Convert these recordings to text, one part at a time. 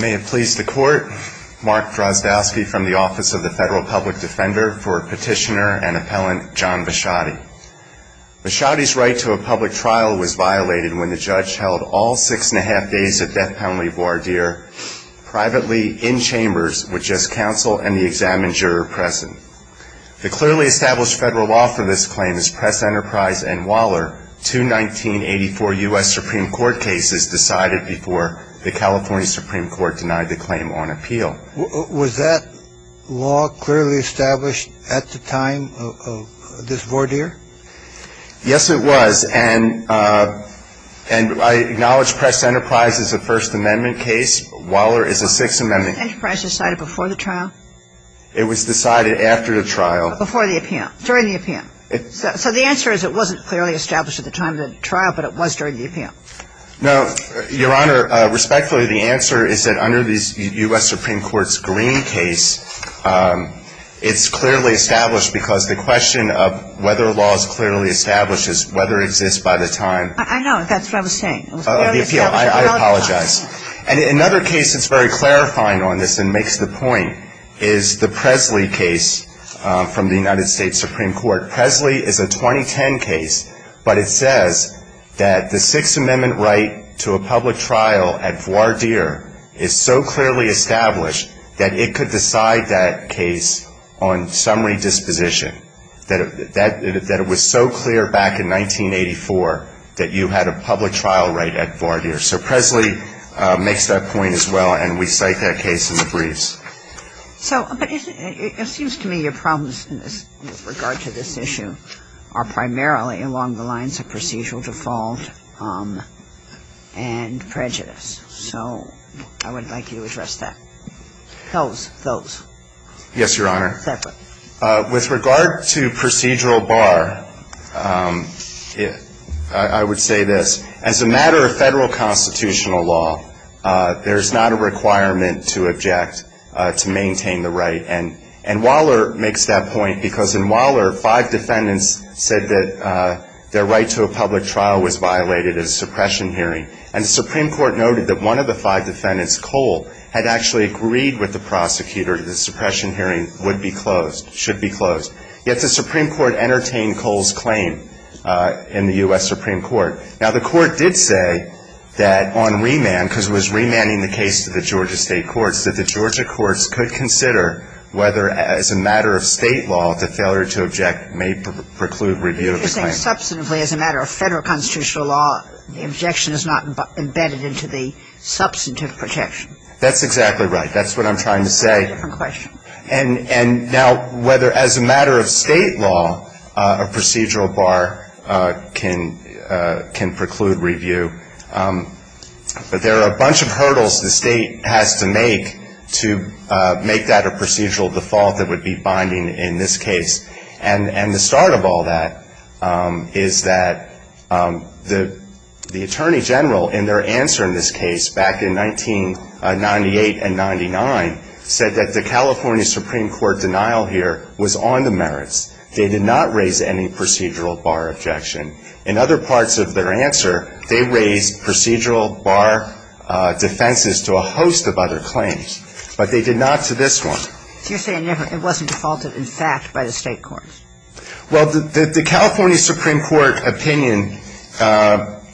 May it please the Court, Mark Drozdowski from the Office of the Federal Public Defender for Petitioner and Appellant John Visciotti. Visciotti's right to a public trial was violated when the judge held all six and a half days at Beth Poundly voir dire privately in chambers with just counsel and the examined juror present. The clearly established federal law for this claim is Press, Enterprise and Waller, two 1984 U.S. Supreme Court cases decided before the California Supreme Court denied the claim on appeal. Was that law clearly established at the time of this voir dire? Yes, it was. And I acknowledge Press, Enterprise is a First Amendment case. Waller is a Sixth Amendment case. Was Press, Enterprise decided before the trial? It was decided after the trial. Before the appeal. During the appeal. So the answer is it wasn't clearly established at the time of the trial, but it was during the appeal. No, Your Honor, respectfully, the answer is that under the U.S. Supreme Court's Green case, it's clearly established because the question of whether a law is clearly established is whether it exists by the time I know. That's what I was saying. I apologize. And another case that's very clarifying on this and makes the point is the Presley case from the United States Supreme Court. Presley is a 2010 case, but it says that the Sixth Amendment right to a public trial at voir dire is so clearly established that it could decide that case on summary disposition, that it was so clear back in 1984 that you had a public trial right at voir dire. So Presley makes that point as well, and we cite that case in the briefs. So it seems to me your problems with regard to this issue are primarily along the lines of procedural default and prejudice. So I would like you to address that. Those. Those. Yes, Your Honor. With regard to procedural bar, I would say this. As a matter of federal constitutional law, there's not a requirement to object to maintain the right. And Waller makes that point because in Waller, five defendants said that their right to a public trial was violated at a suppression hearing. And the Supreme Court noted that one of the five defendants, Cole, had actually agreed with the prosecutor that the suppression hearing would be closed, should be closed. Yet the Supreme Court entertained Cole's claim in the U.S. Supreme Court. Now, the court did say that on remand, because it was remanding the case to the Georgia state courts, that the Georgia courts could consider whether, as a matter of State law, the failure to object may preclude review of the claim. But you're saying substantively, as a matter of federal constitutional law, the objection is not embedded into the substantive protection. That's exactly right. That's what I'm trying to say. That's a different question. And now, whether as a matter of State law, a procedural bar can preclude review. But there are a bunch of hurdles the State has to make to make that a procedural default that would be binding in this case. And the start of all that is that the Attorney General, in their answer in this case back in 1998 and 1999, said that the California Supreme Court denial here was on the merits. They did not raise any procedural bar objection. In other parts of their answer, they raised procedural bar defenses to a host of other claims. But they did not to this one. So you're saying it wasn't defaulted, in fact, by the State courts? Well, the California Supreme Court opinion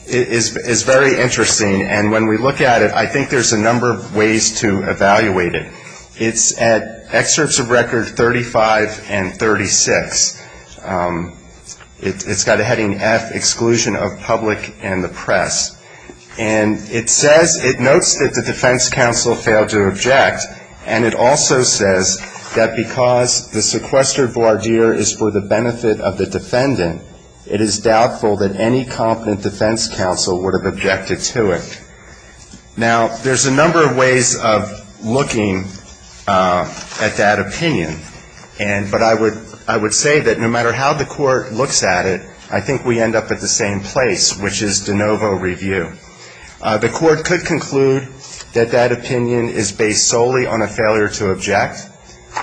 is very interesting. And when we look at it, I think there's a number of ways to evaluate it. It's at excerpts of record 35 and 36. It's got a heading F, exclusion of public and the press. And it says, it notes that the defense counsel failed to object. And it also says that because the sequestered voir dire is for the benefit of the defendant, it is doubtful that any competent defense counsel would have objected to it. Now, there's a number of ways of looking at that opinion. And, but I would, I would say that no matter how the court looks at it, I think we end up at the same place, which is de novo review. The court could conclude that that opinion is based solely on a failure to object.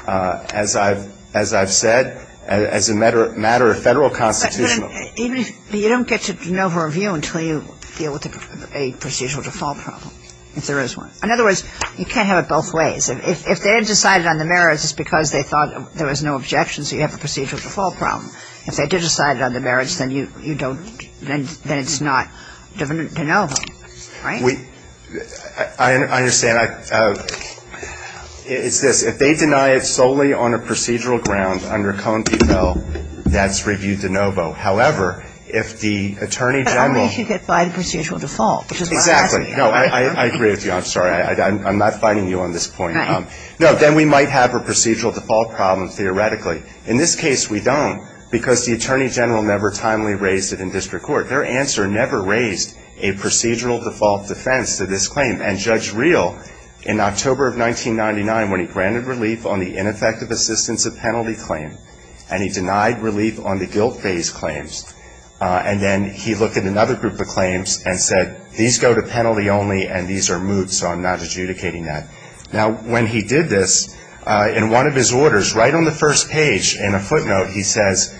As I've, as I've said, as a matter, matter of Federal constitutional But then, even if, you don't get to de novo review until you deal with a procedural default problem, if there is one. In other words, you can't have it both ways. If they had decided on the merits, it's because they thought there was no objection, so you have a procedural default problem. If they did decide on the merits, then you, you don't, then it's not de novo, right? We, I understand. It's this. If they deny it solely on a procedural ground under Cohen v. Bell, that's review de novo. However, if the Attorney General But I'll make you get by the procedural default, which is what I'm asking you. Exactly. No, I agree with you. I'm sorry. I'm not fighting you on this point. Right. No, then we might have a procedural default problem theoretically. In this case, we don't, because the Attorney General never timely raised it in district court. Their answer never raised a procedural default defense to this claim. And Judge Reel, in October of 1999, when he granted relief on the ineffective assistance of penalty claim, and he denied relief on the guilt-based claims, and then he looked at another group of claims and said, these go to penalty only and these are moot, so I'm not adjudicating that. Now, when he did this, in one of his orders, right on the first page, in a footnote, he says,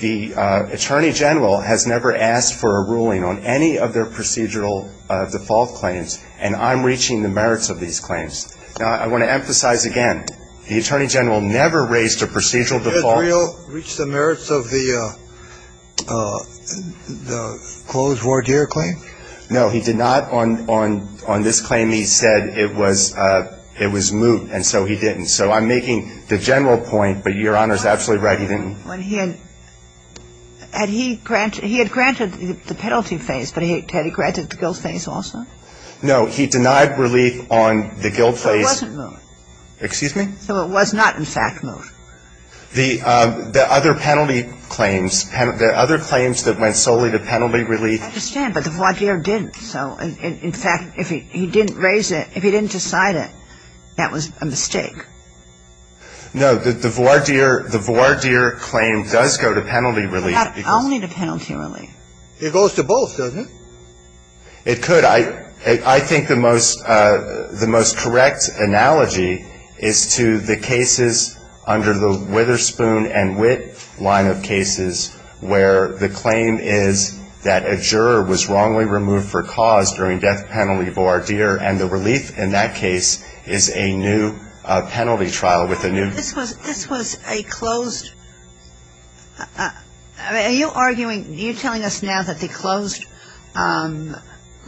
the Attorney General has never asked for a ruling on any of their procedural default claims, and I'm reaching the merits of these claims. Now, I want to emphasize again, the Attorney General never raised a procedural default. Did Judge Reel reach the merits of the closed voir dire claim? No, he did not. On this claim, he said it was moot, and so he didn't. So I'm making the general point, but Your Honor's absolutely right, he didn't. Had he granted the penalty phase, but had he granted the guilt phase also? No. He denied relief on the guilt phase. So it wasn't moot. Excuse me? So it was not, in fact, moot. The other penalty claims, the other claims that went solely to penalty relief I understand, but the voir dire didn't. So, in fact, if he didn't raise it, if he didn't decide it, that was a mistake. No. The voir dire claim does go to penalty relief. But not only to penalty relief. It goes to both, doesn't it? It could. I think the most correct analogy is to the cases under the Witherspoon and Witt line of cases, where the claim is that a juror was wrongly removed for cause during death penalty voir dire, and the relief in that case is a new penalty trial with a new This was a closed, are you arguing, are you telling us now that the closed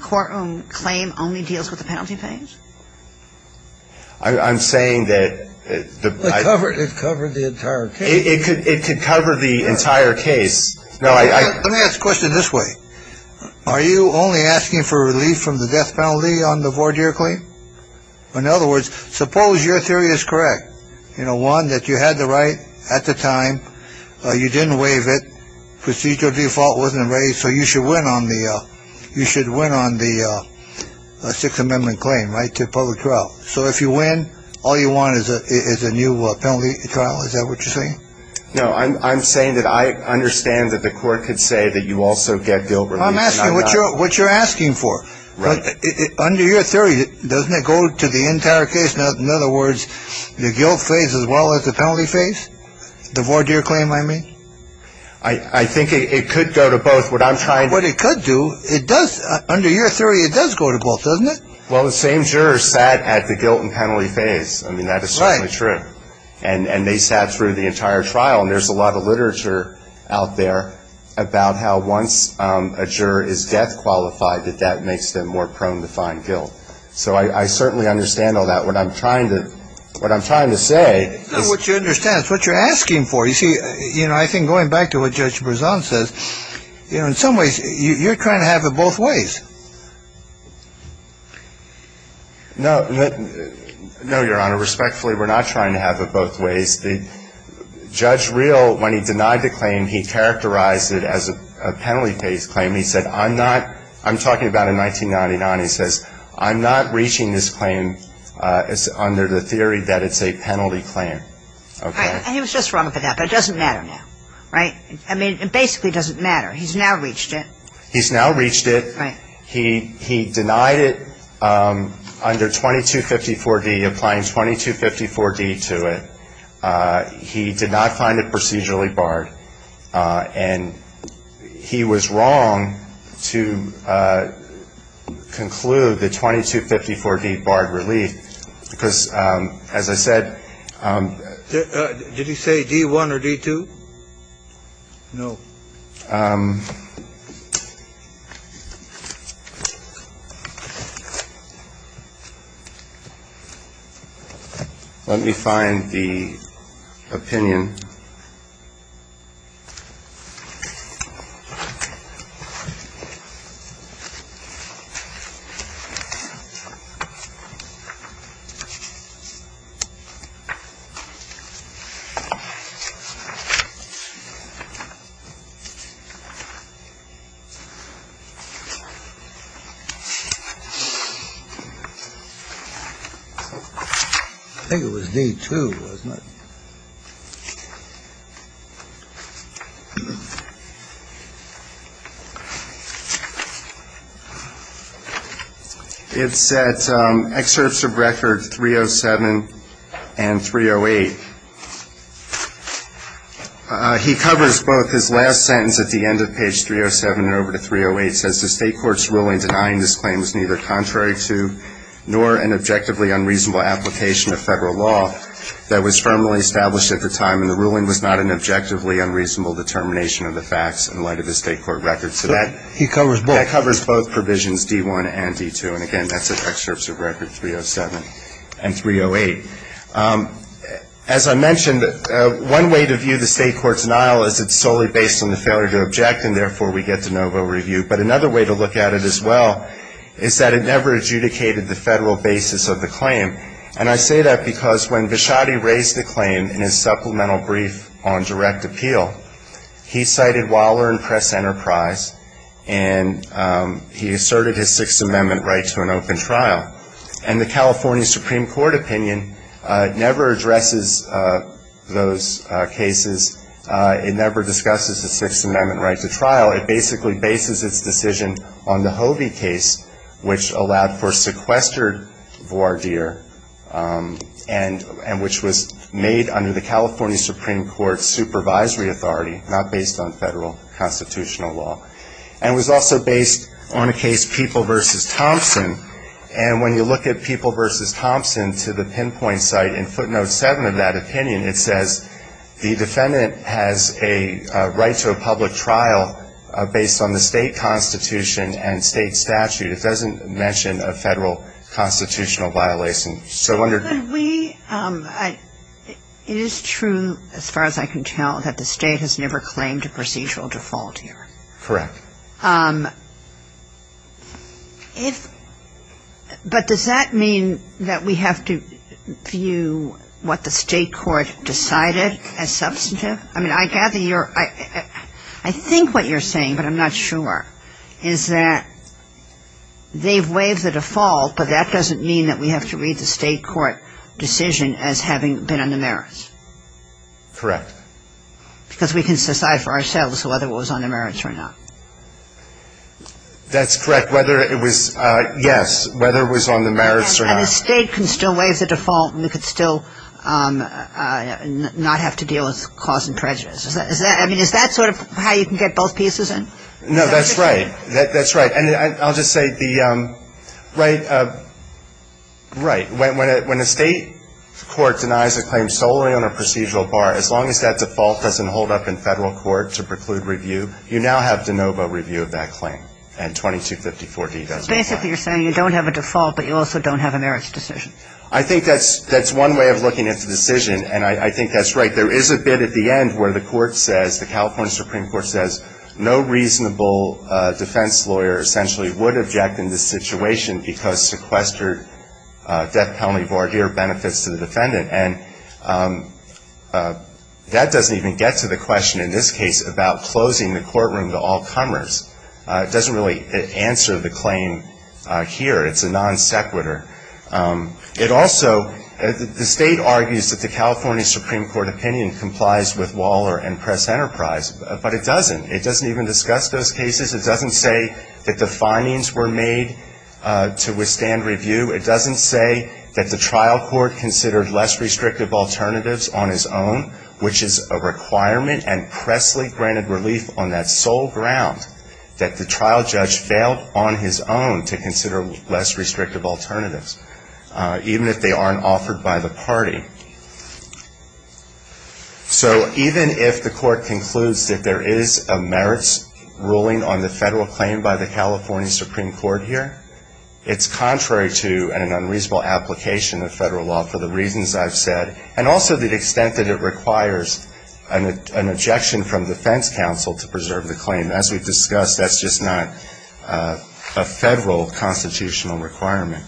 courtroom claim only deals with the penalty phase? I'm saying that It covered the entire case. It could cover the entire case. Now, let me ask a question this way. Are you only asking for relief from the death penalty on the voir dire claim? In other words, suppose your theory is correct. You know, one, that you had the right at the time. You didn't waive it. Procedure of default wasn't raised. So you should win on the you should win on the Sixth Amendment claim, right, to public trial. So if you win, all you want is a new penalty trial. Is that what you're saying? No, I'm saying that I understand that the court could say that you also get guilt relief. I'm asking what you're what you're asking for. Right. Under your theory, doesn't it go to the entire case? Now, in other words, the guilt phase as well as the penalty phase, the voir dire claim, I mean. I think it could go to both. What I'm trying. What it could do, it does. Under your theory, it does go to both, doesn't it? Well, the same jurors sat at the guilt and penalty phase. I mean, that is certainly true. And they sat through the entire trial. And there's a lot of literature out there about how once a juror is death qualified, that that makes them more prone to find guilt. So I certainly understand all that. What I'm trying to what I'm trying to say is what you understand is what you're asking for. You see, you know, I think going back to what Judge Brisson says, you know, in some ways you're trying to have it both ways. No, no, no, Your Honor. Respectfully, we're not trying to have it both ways. The judge real when he denied the claim, he characterized it as a penalty phase claim. He said, I'm not I'm talking about in 1999. He says, I'm not reaching this claim under the theory that it's a penalty claim. And he was just wrong about that. But it doesn't matter now. Right. I mean, it basically doesn't matter. He's now reached it. He's now reached it. He he denied it under 2254 D, applying 2254 D to it. He did not find it procedurally barred. And he was wrong to conclude the 2254 D barred relief. Because, as I said, did you say D one or D two? No. Let me find the opinion. I think it was D two, wasn't it? It's at excerpts of record 307 and 308. He covers both his last sentence at the end of page 307 and over to 308, says the state court's ruling denying this claim was neither contrary to nor an objectively unreasonable application of federal law that was firmly established at the time, and the ruling was not an objectively unreasonable determination of the facts in light of the state court records. So that covers both provisions, D one and D two. And again, that's at excerpts of record 307 and 308. As I mentioned, one way to view the state court's denial is it's solely based on the failure to object, and therefore we get de novo review. But another way to look at it as well is that it never adjudicated the federal basis of the claim. And I say that because when Vichotti raised the claim in his supplemental brief on direct appeal, he cited Waller and Press Enterprise, and he asserted his Sixth Amendment right to an open trial. And the California Supreme Court opinion never addresses those cases. It never discusses the Sixth Amendment right to trial. It basically bases its decision on the Hovey case, which allowed for sequestered voir dire, and which was made under the California Supreme Court's supervisory authority, not based on federal constitutional law. And was also based on a case, People v. Thompson, and when you look at People v. Thompson to the pinpoint site in footnote seven of that opinion, it says, the defendant has a right to a public trial based on the state constitution and state statute. It doesn't mention a federal constitutional violation. So under- But we, it is true, as far as I can tell, that the state has never claimed a procedural default here. Correct. But does that mean that we have to view what the state court decided as substantive? I mean, I gather you're, I think what you're saying, but I'm not sure, is that they've waived the default, but that doesn't mean that we have to read the state court decision as having been on the merits. Correct. Because we can decipher ourselves whether it was on the merits or not. That's correct, whether it was, yes, whether it was on the merits or not. And the state can still waive the default and we could still not have to deal with cause and prejudice. Is that, I mean, is that sort of how you can get both pieces in? No, that's right, that's right. And I'll just say the, right, right. When a state court denies a claim solely on a procedural bar, as long as that default doesn't hold up in federal court to preclude review, you now have de novo review of that claim. And 2254-D does not apply. Basically, you're saying you don't have a default, but you also don't have a merits decision. I think that's one way of looking at the decision, and I think that's right. There is a bit at the end where the court says, the California Supreme Court says no reasonable defense lawyer essentially would object in this situation because sequestered death penalty voir dire benefits to the defendant. And that doesn't even get to the question in this case about closing the courtroom to all comers. It doesn't really answer the claim here. It's a non sequitur. It also, the state argues that the California Supreme Court opinion complies with Waller and Press Enterprise, but it doesn't. It doesn't even discuss those cases. It doesn't say that the findings were made to withstand review. It doesn't say that the trial court considered less restrictive alternatives on his own, which is a requirement and pressly granted relief on that sole ground that the trial judge failed on his own to consider less restrictive alternatives, even if they aren't offered by the party. So even if the court concludes that there is a merits ruling on the federal claim by the California Supreme Court here, it's contrary to an unreasonable application of federal law for the reasons I've said. And also the extent that it requires an objection from defense counsel to preserve the claim. As we've discussed, that's just not a federal constitutional requirement.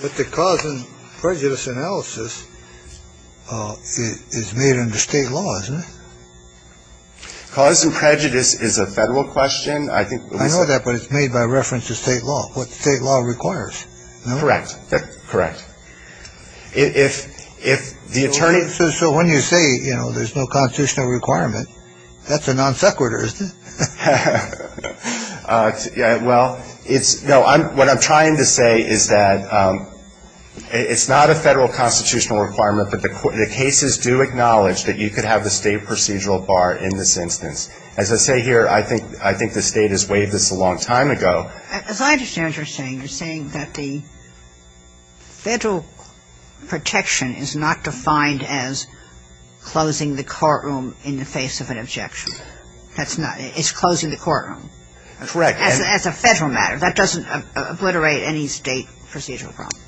But the cause and prejudice analysis is made under state law, isn't it? Cause and prejudice is a federal question. I know that, but it's made by reference to state law, what state law requires. Correct. Correct. If the attorney. So when you say, you know, there's no constitutional requirement, that's a non sequitur, isn't it? Well, it's, no, what I'm trying to say is that it's not a federal constitutional requirement, but the cases do acknowledge that you could have the state procedural bar in this instance. As I say here, I think the State has waived this a long time ago. As I understand what you're saying, you're saying that the federal protection is not defined as closing the courtroom in the face of an objection. That's not, it's closing the courtroom. Correct. As a federal matter. That doesn't obliterate any state procedural problem.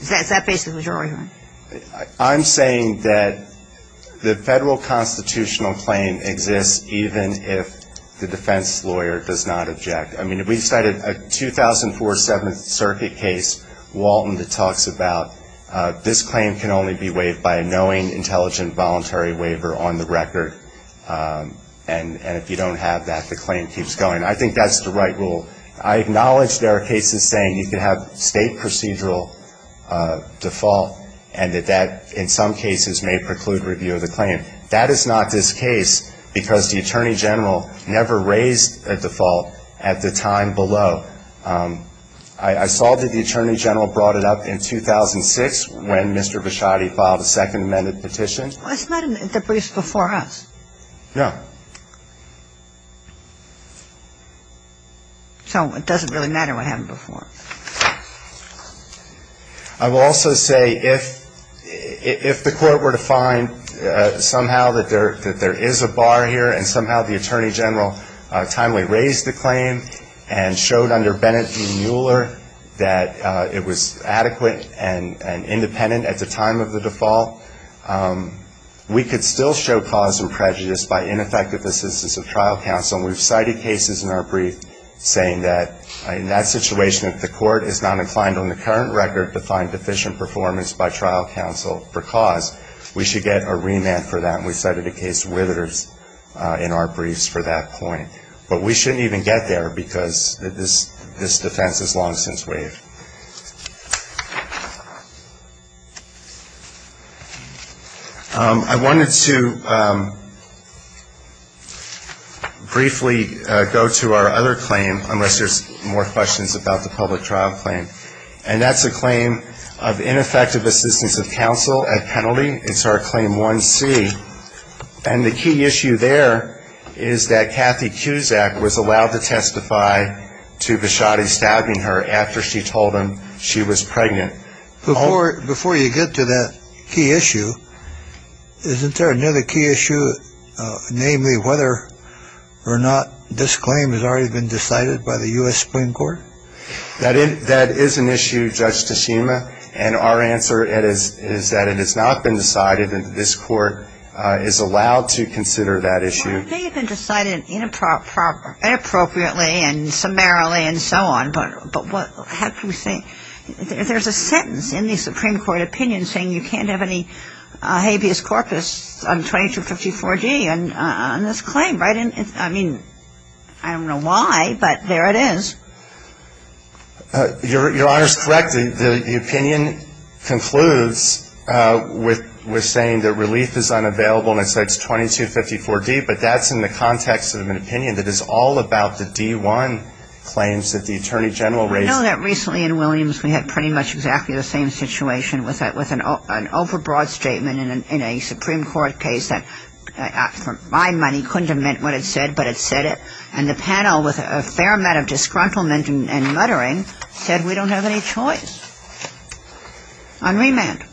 Is that basically what you're arguing? I'm saying that the federal constitutional claim exists even if the defense lawyer does not object. I mean, we've cited a 2004 Seventh Circuit case, Walton, that talks about this claim can only be waived by a knowing, intelligent, voluntary waiver on the record. And if you don't have that, the claim keeps going. I think that's the right rule. I acknowledge there are cases saying you can have state procedural default and that that, in some cases, may preclude review of the claim. That is not this case because the Attorney General never raised a default at the time below. I saw that the Attorney General brought it up in 2006 when Mr. Bishotti filed a Second Amendment petition. That's not an interpretation before us. No. So it doesn't really matter what happened before. I will also say if the Court were to find somehow that there is a bar here and somehow the Attorney General timely raised the claim and showed under Bennet v. Mueller that it was adequate and independent at the time of the default, we could still show cause and prejudice by ineffective assistance of trial counsel. And we've cited cases in our brief saying that in that situation, if the Court is not inclined on the current record to find deficient performance by trial counsel for cause, we should get a remand for that. And we've cited a case, Withers, in our briefs for that point. But we shouldn't even get there because this defense has long since waived. I wanted to briefly go to our other claim, unless there's more questions about the public trial claim. And that's a claim of ineffective assistance of counsel at penalty. It's our Claim 1C. And the key issue there is that Kathy Cusack was allowed to testify to Bishotti stabbing her after she told him she was pregnant. Before you get to that key issue, isn't there another key issue, namely whether or not this claim has already been decided by the U.S. Supreme Court? That is an issue, Judge Tashima, and our answer is that it has not been decided and this Court is allowed to consider that issue. It may have been decided inappropriately and summarily and so on, but there's a sentence in the Supreme Court opinion saying you can't have any habeas corpus on 2254D on this claim, right? I mean, I don't know why, but there it is. Your Honor is correct. The opinion concludes with saying that relief is unavailable and it says 2254D, but that's in the context of an opinion that is all about the D1 claims that the Attorney General raised. I know that recently in Williams we had pretty much exactly the same situation with an overbroad statement in a Supreme Court case that for my money couldn't have meant what it said, but it said it. And the panel with a fair amount of disgruntlement and muttering said we don't have any choice on remand.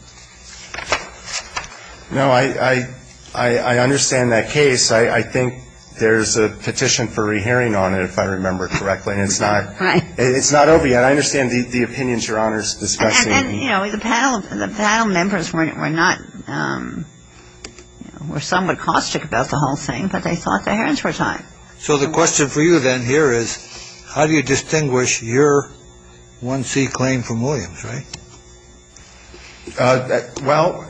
No, I understand that case. I think there's a petition for rehearing on it, if I remember correctly. It's not over yet. I understand the opinions Your Honor is discussing. And then, you know, the panel members were not, were somewhat caustic about the whole thing, but they thought the hearings were time. So the question for you then here is how do you distinguish your 1C claim from Williams, right? Well,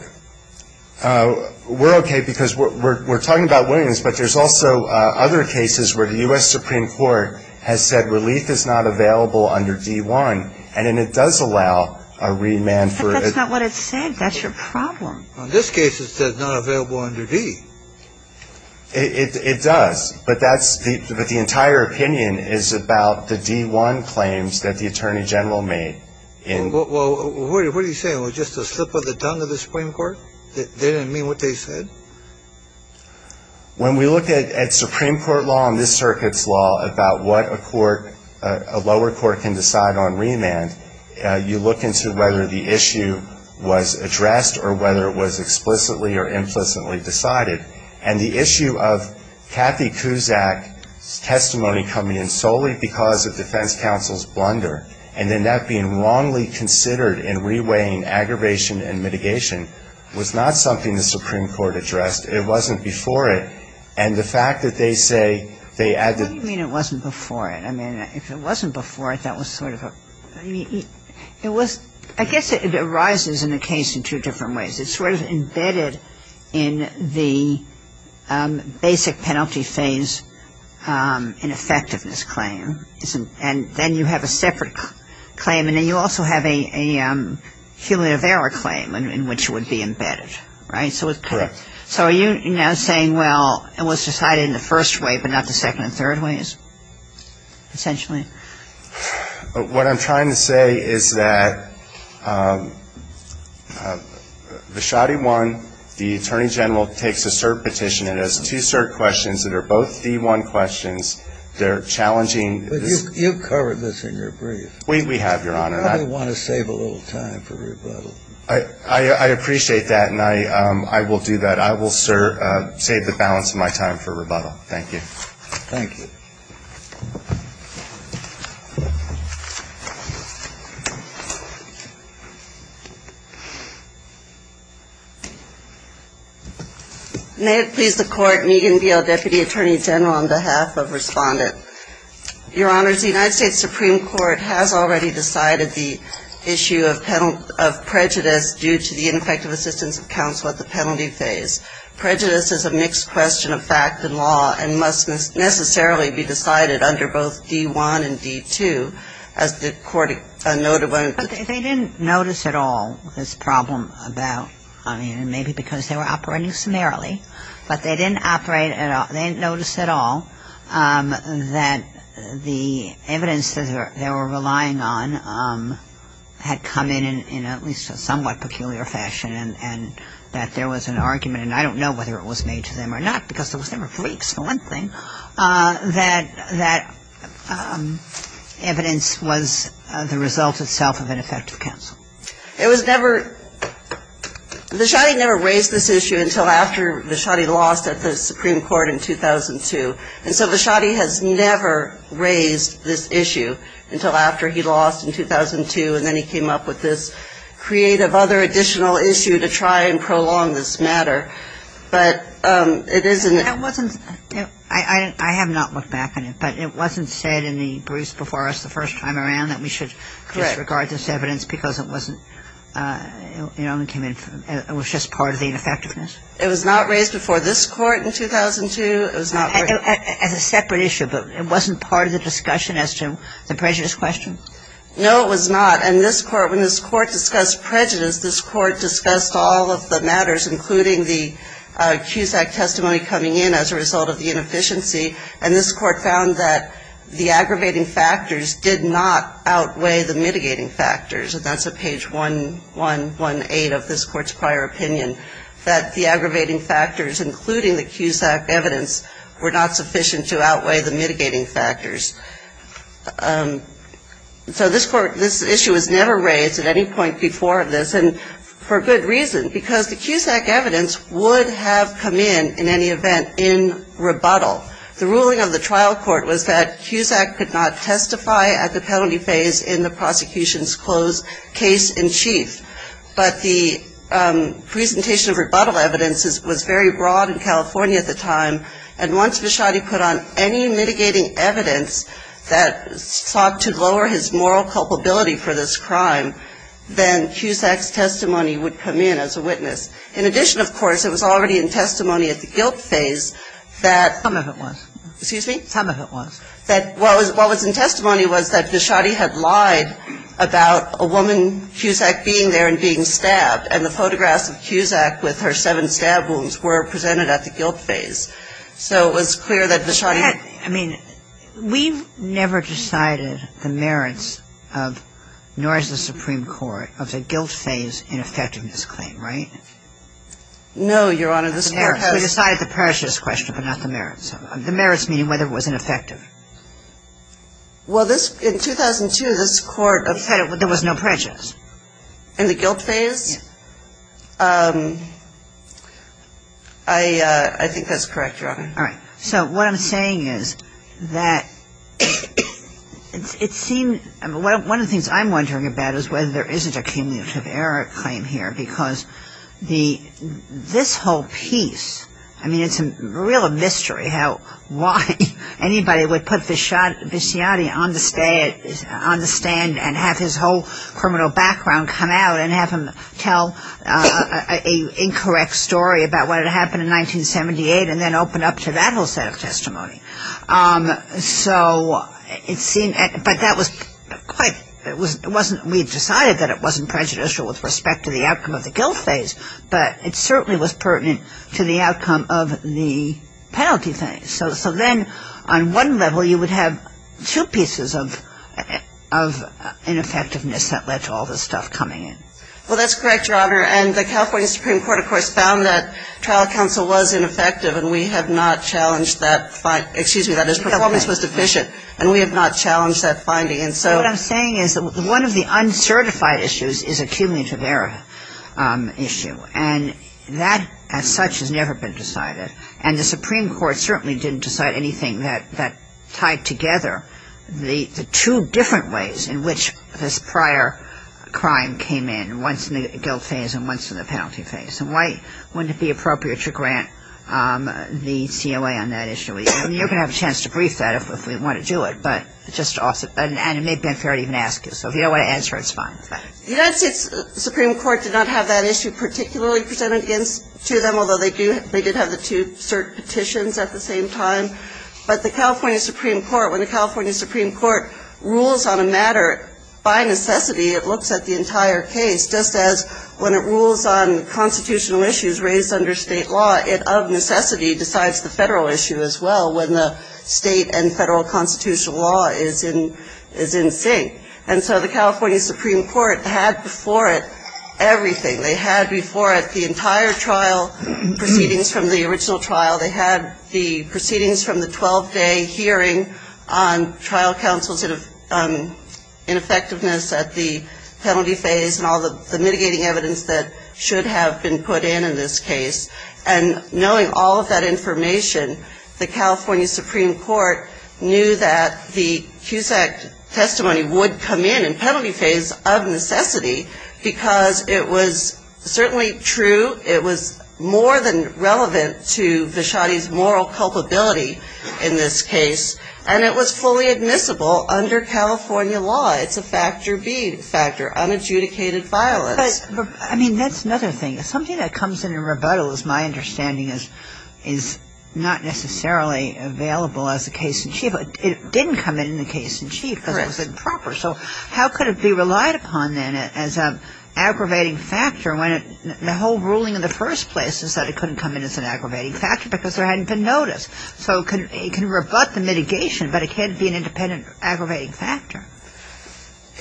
we're okay because we're talking about Williams, but there's also other cases where the U.S. Supreme Court has said relief is not available under D1 and it does allow a remand. But that's not what it said. That's your problem. In this case it says not available under D. It does, but that's, but the entire opinion is about the D1 claims that the Attorney General made. Well, what are you saying? It was just a slip of the tongue of the Supreme Court? They didn't mean what they said? When we look at Supreme Court law and this circuit's law about what a court, a lower court can decide on remand, you look into whether the issue was addressed or whether it was explicitly or implicitly decided. And the issue of Kathy Cusack's testimony coming in solely because of defense counsel's blunder and then that being wrongly considered in re-weighing aggravation and mitigation was not something the Supreme Court addressed. It wasn't before it. And the fact that they say they add the ---- What do you mean it wasn't before it? I mean, if it wasn't before it, that was sort of a, I mean, it was, I guess it arises in the case in two different ways. It's sort of embedded in the basic penalty phase in effectiveness claim. And then you have a separate claim. And then you also have a cumulative error claim in which it would be embedded. Right? Correct. So are you now saying, well, it was decided in the first way, but not the second and third ways, essentially? What I'm trying to say is that Vashadi 1, the Attorney General, takes a cert petition that has two cert questions that are both D1 questions. They're challenging. But you've covered this in your brief. We have, Your Honor. You probably want to save a little time for rebuttal. I appreciate that. And I will do that. I will save the balance of my time for rebuttal. Thank you. Thank you. May it please the Court, Meagan Beale, Deputy Attorney General, on behalf of Respondent. Your Honors, the United States Supreme Court has already decided the issue of prejudice due to the ineffective assistance of counsel at the penalty phase. Prejudice is a mixed question of fact and law and must necessarily be decided It's a mixed question of fact and law. under both D1 and D2, as the Court noted. But they didn't notice at all this problem about, I mean, maybe because they were operating summarily, but they didn't operate at all, they didn't notice at all that the evidence that they were relying on had come in in at least a somewhat peculiar fashion and that there was an argument, and I don't know whether it was made to them or not because those were pretty excellent things, that the evidence was the result itself of ineffective counsel. It was never, Vashadi never raised this issue until after Vashadi lost at the Supreme Court in 2002. And so Vashadi has never raised this issue until after he lost in 2002 and then he came up with this creative other additional issue to try and prolong this matter. But it is an issue. I have not looked back on it. But it wasn't said in the briefs before us the first time around that we should disregard this evidence because it wasn't, you know, it was just part of the ineffectiveness. It was not raised before this Court in 2002? As a separate issue. But it wasn't part of the discussion as to the prejudice question? No, it was not. And this Court, when this Court discussed prejudice, this Court discussed all of the matters, including the CUSAC testimony coming in as a result of the inefficiency. And this Court found that the aggravating factors did not outweigh the mitigating factors. And that's at page 118 of this Court's prior opinion, that the aggravating factors, including the CUSAC evidence, were not sufficient to outweigh the mitigating factors. So this Court, this issue was never raised at any point before this. And for good reason, because the CUSAC evidence would have come in, in any event, in rebuttal. The ruling of the trial court was that CUSAC could not testify at the penalty phase in the prosecution's closed case in chief. But the presentation of rebuttal evidence was very broad in California at the time. And once Vachotti put on any mitigating evidence that sought to lower his moral culpability for this crime, then CUSAC's testimony would come in as a witness. In addition, of course, it was already in testimony at the guilt phase that the testimony was that Vachotti had lied about a woman, CUSAC, being there and being stabbed. And the photographs of CUSAC with her seven stab wounds were presented at the guilt phase. So it was clear that Vachotti had lied. And I'm not sure that the court has decided the merits of nor has the Supreme Court of the guilt phase in effecting this claim, right? No, Your Honor. We decided the prejudice question, but not the merits. The merits meaning whether it was ineffective. Well, this ‑‑ in 2002, this Court of ‑‑ There was no prejudice. Yes. I think that's correct, Your Honor. All right. So what I'm saying is that it seems ‑‑ one of the things I'm wondering about is whether there isn't a cumulative error claim here, because this whole piece, I mean, it's a real mystery how why anybody would put Vichatti on the stand and have his whole criminal background come out and have him tell an incorrect story about what had happened in 1978 and then open up to that whole set of testimony. So it seemed ‑‑ but that was quite ‑‑ it wasn't ‑‑ we decided that it wasn't prejudicial with respect to the outcome of the guilt phase, but it certainly was pertinent to the outcome of the penalty phase. So then on one level, you would have two pieces of ineffectiveness that led to all this stuff coming in. Well, that's correct, Your Honor. And the California Supreme Court, of course, found that trial counsel was ineffective, and we have not challenged that ‑‑ excuse me, that his performance was deficient, and we have not challenged that finding. And so ‑‑ But what I'm saying is that one of the uncertified issues is a cumulative error issue, and that as such has never been decided, and the Supreme Court certainly didn't decide anything that tied together the two different ways in which this penalty phase. And why wouldn't it be appropriate to grant the COA on that issue? You're going to have a chance to brief that if we want to do it, but just off the ‑‑ and it may have been fair to even ask you. So if you don't want to answer, it's fine. The United States Supreme Court did not have that issue particularly presented to them, although they did have the two cert petitions at the same time. But the California Supreme Court, when the California Supreme Court rules on a constitutional issue raised under state law, it of necessity decides the federal issue as well when the state and federal constitutional law is in sync. And so the California Supreme Court had before it everything. They had before it the entire trial proceedings from the original trial. They had the proceedings from the 12‑day hearing on trial counsel's ineffectiveness at the penalty phase and all the mitigating evidence that should have been put in in this case. And knowing all of that information, the California Supreme Court knew that the CUSAC testimony would come in in penalty phase of necessity because it was certainly true, it was more than relevant to Vachotti's moral culpability in this case, and it was fully admissible under California law. It's a factor B factor, unadjudicated violence. But, I mean, that's another thing. Something that comes in in rebuttal is my understanding is not necessarily available as a case in chief. It didn't come in in the case in chief because it was improper. So how could it be relied upon then as an aggravating factor when the whole ruling in the first place is that it couldn't come in as an aggravating factor because there hadn't been notice. So it can rebut the mitigation, but it can't be an independent aggravating factor.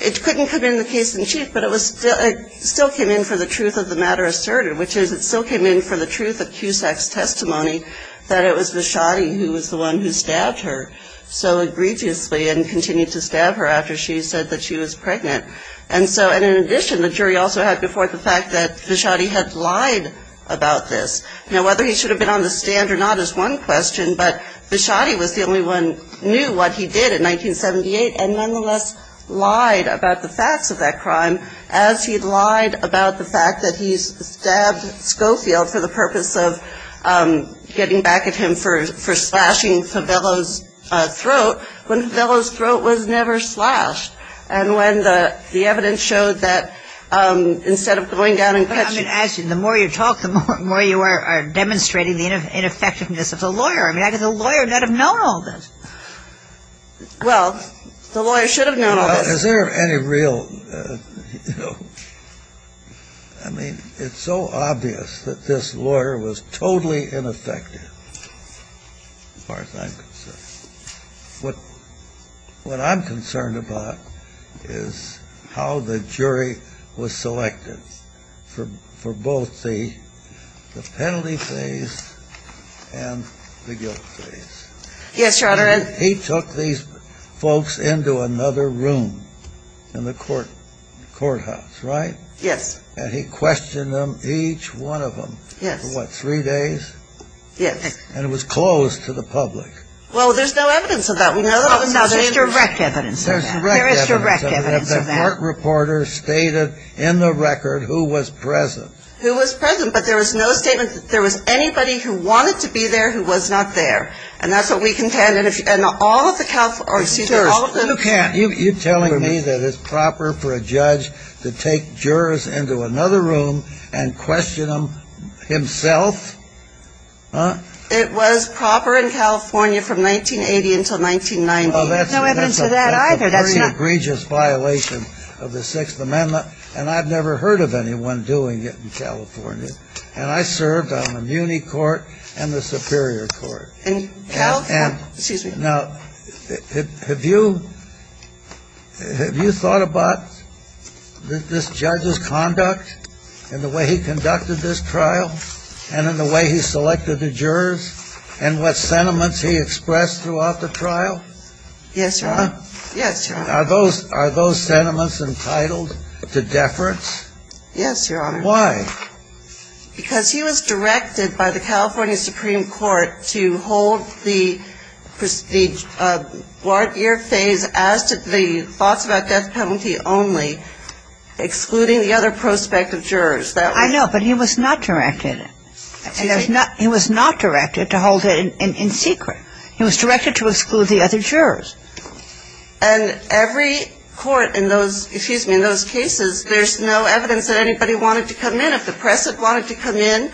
It couldn't come in the case in chief, but it still came in for the truth of the matter asserted, which is it still came in for the truth of CUSAC's testimony that it was Vachotti who was the one who stabbed her so egregiously and continued to stab her after she said that she was pregnant. And in addition, the jury also had before it the fact that Vachotti had lied about this. Now, whether he should have been on the stand or not is one question, but Vachotti was the only one who knew what he did in 1978 and nonetheless lied about the facts of that crime as he lied about the fact that he stabbed Schofield for the purpose of getting back at him for slashing Favello's throat, when Favello's throat was never slashed. And when the evidence showed that instead of going down and catching her. But I'm going to ask you, the more you talk, the more you are demonstrating the ineffectiveness of the lawyer. I mean, the lawyer should have known all this. Well, the lawyer should have known all this. Well, is there any real, you know, I mean, it's so obvious that this lawyer was totally ineffective as far as I'm concerned. What I'm concerned about is how the jury was selected for both the penalty phase and the guilt phase. Yes, Your Honor. And he took these folks into another room in the courthouse, right? Yes. And he questioned them, each one of them. Yes. For what, three days? Yes. And it was closed to the public. Well, there's no evidence of that. No, there's direct evidence of that. There's direct evidence of that. There is direct evidence of that. The court reporter stated in the record who was present. Who was present. But there was no statement that there was anybody who wanted to be there who was not there. And that's what we contend. And all of the Cal, excuse me, all of them. You can't. You're telling me that it's proper for a judge to take jurors into another room and question them himself? Huh? It was proper in California from 1980 until 1990. There's no evidence of that either. That's an egregious violation of the Sixth Amendment. And I've never heard of anyone doing it in California. And I served on the muni court and the superior court. And Cal, excuse me. Now, have you thought about this judge's conduct and the way he conducted this trial and in the way he selected the jurors and what sentiments he expressed throughout the trial? Yes, Your Honor. Yes, Your Honor. Are those sentiments entitled to deference? Yes, Your Honor. Why? Because he was directed by the California Supreme Court to hold the guard ear phase as to the thoughts about death penalty only, excluding the other prospective jurors. I know, but he was not directed. He was not directed to hold it in secret. He was directed to exclude the other jurors. And every court in those, excuse me, in those cases, there's no evidence that anybody wanted to come in. If the press had wanted to come in,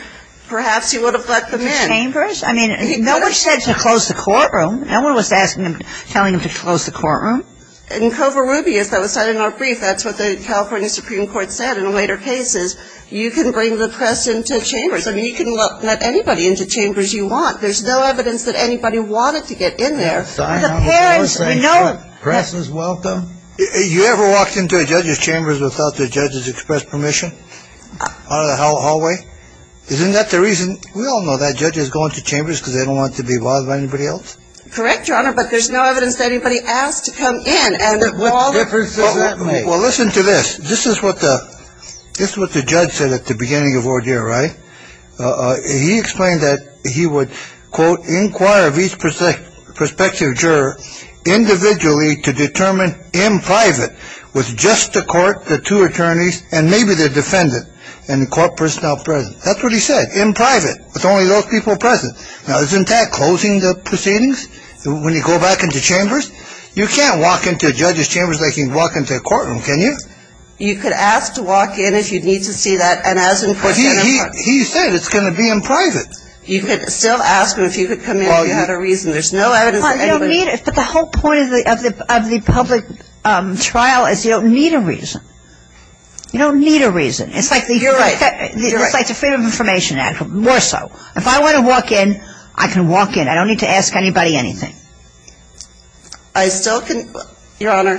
perhaps he would have let them in. The chambers? I mean, no one said to close the courtroom. No one was asking him, telling him to close the courtroom. In Covarrubias, that was cited in our brief, that's what the California Supreme Court said in later cases. You can bring the press into chambers. I mean, you can let anybody into chambers you want. There's no evidence that anybody wanted to get in there. The press is welcome. You ever walked into a judge's chambers without the judge's express permission? Out of the hallway? Isn't that the reason? We all know that judges go into chambers because they don't want to be bothered by anybody else. Correct, Your Honor, but there's no evidence that anybody asked to come in. What difference does that make? Well, listen to this. This is what the judge said at the beginning of ordeal, right? He explained that he would, quote, inquire of each prospective juror individually to determine in private with just the court, the two attorneys, and maybe the defendant and the court personnel present. That's what he said, in private, with only those people present. Now, isn't that closing the proceedings when you go back into chambers? You can't walk into a judge's chambers like you'd walk into a courtroom, can you? You could ask to walk in if you need to see that. He said it's going to be in private. You could still ask him if you could come in if you had a reason. There's no evidence of anybody. But the whole point of the public trial is you don't need a reason. You don't need a reason. You're right. It's like the Freedom of Information Act, more so. If I want to walk in, I can walk in. I don't need to ask anybody anything. I still can, Your Honor,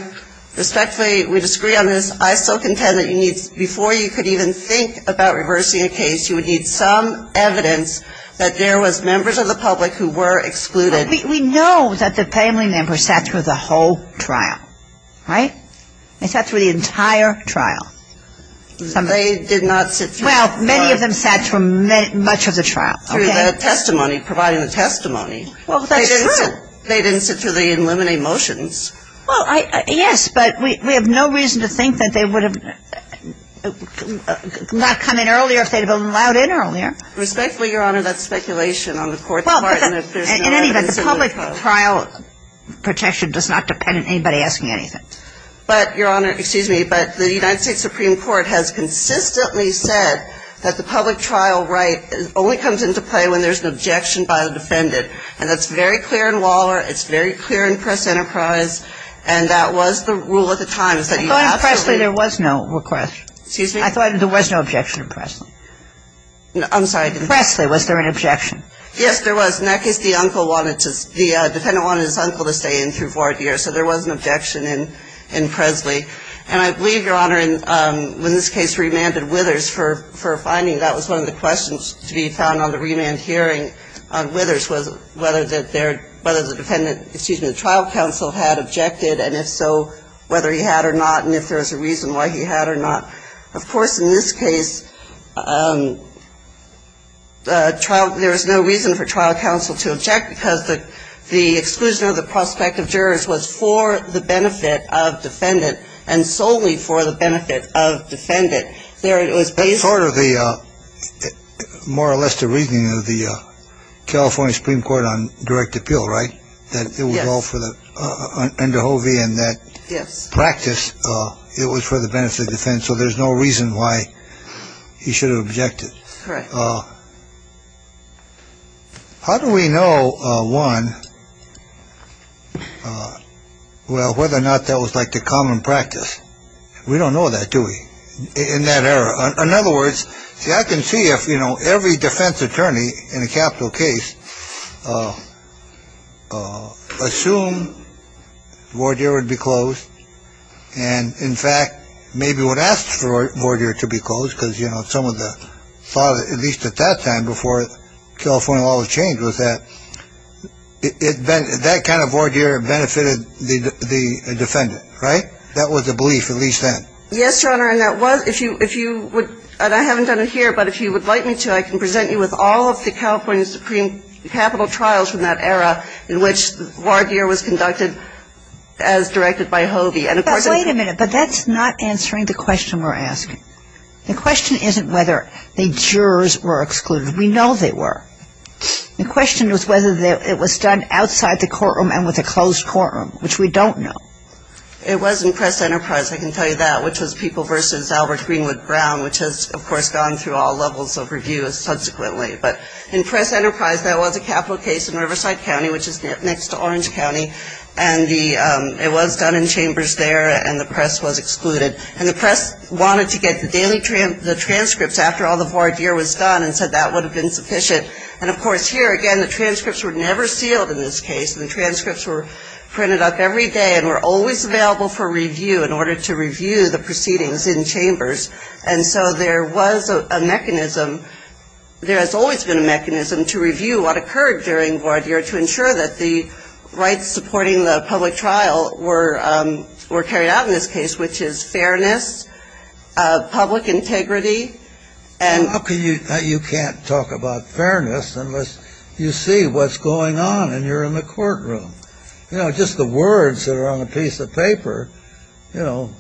respectfully, we disagree on this. I still contend that before you could even think about reversing a case, you would need some evidence that there was members of the public who were excluded. We know that the family member sat through the whole trial, right? They sat through the entire trial. They did not sit through the trial. Well, many of them sat through much of the trial. Through the testimony, providing the testimony. Well, that's true. They didn't sit through the eliminate motions. Well, yes, but we have no reason to think that they would have not come in earlier if they had been allowed in earlier. Respectfully, Your Honor, that's speculation on the Court's part. In any event, the public trial protection does not depend on anybody asking anything. But, Your Honor, excuse me, but the United States Supreme Court has consistently said that the public trial right only comes into play when there's an objection by the defendant. And that's very clear in Waller. It's very clear in Press Enterprise. And that was the rule at the time. I thought in Presley there was no request. Excuse me? I thought there was no objection in Pressley. I'm sorry. In Pressley, was there an objection? Yes, there was. In that case, the uncle wanted to – the defendant wanted his uncle to stay in through four years. So there was an objection in Pressley. And I believe, Your Honor, in this case, remanded Withers for finding that was one of the questions to be found on the remand hearing on Withers was whether the defendant – excuse me – the trial counsel had objected, and if so, whether he had or not, and if there was a reason why he had or not. Of course, in this case, trial – there was no reason for trial counsel to object because the exclusion of the prospective jurors was for the benefit of defendant and solely for the benefit of defendant. There was – That's sort of the – more or less the reasoning of the California Supreme Court on direct appeal, right? Yes. That it was all for the – under Hovey and that practice, it was for the benefit of defendant. So there's no reason why he should have objected. Correct. How do we know, one, well, whether or not that was like the common practice? We don't know that, do we, in that era? In other words, see, I can see if, you know, every defense attorney in a capital case assumed voir dire would be closed and, in fact, maybe would ask for voir dire to be closed because, you know, some of the – at least at that time, before California law was changed, was that it – that kind of voir dire benefited the defendant, right? That was the belief, at least then. Yes, Your Honor. And that was – if you would – and I haven't done it here, but if you would like me to, I can present you with all of the California Supreme capital trials from that era in which voir dire was conducted as directed by Hovey. But wait a minute. But that's not answering the question we're asking. The question isn't whether the jurors were excluded. We know they were. The question was whether it was done outside the courtroom and with a closed courtroom, which we don't know. It was in Press-Enterprise, I can tell you that, which was People v. Albert Greenwood Brown, which has, of course, gone through all levels of review subsequently. But in Press-Enterprise, there was a capital case in Riverside County, which is next to Orange County, and the – it was done in chambers there, and the press was excluded. And the press wanted to get the daily – the transcripts after all the voir dire was done and said that would have been sufficient. And, of course, here, again, the transcripts were never sealed in this case. The transcripts were printed up every day and were always available for review in order to review the proceedings in chambers. And so there was a mechanism – there has always been a mechanism to review what occurred during voir dire to ensure that the rights supporting the public trial were carried out in this case, which is fairness, public integrity, and – You know, just the words that are on the piece of paper, you know,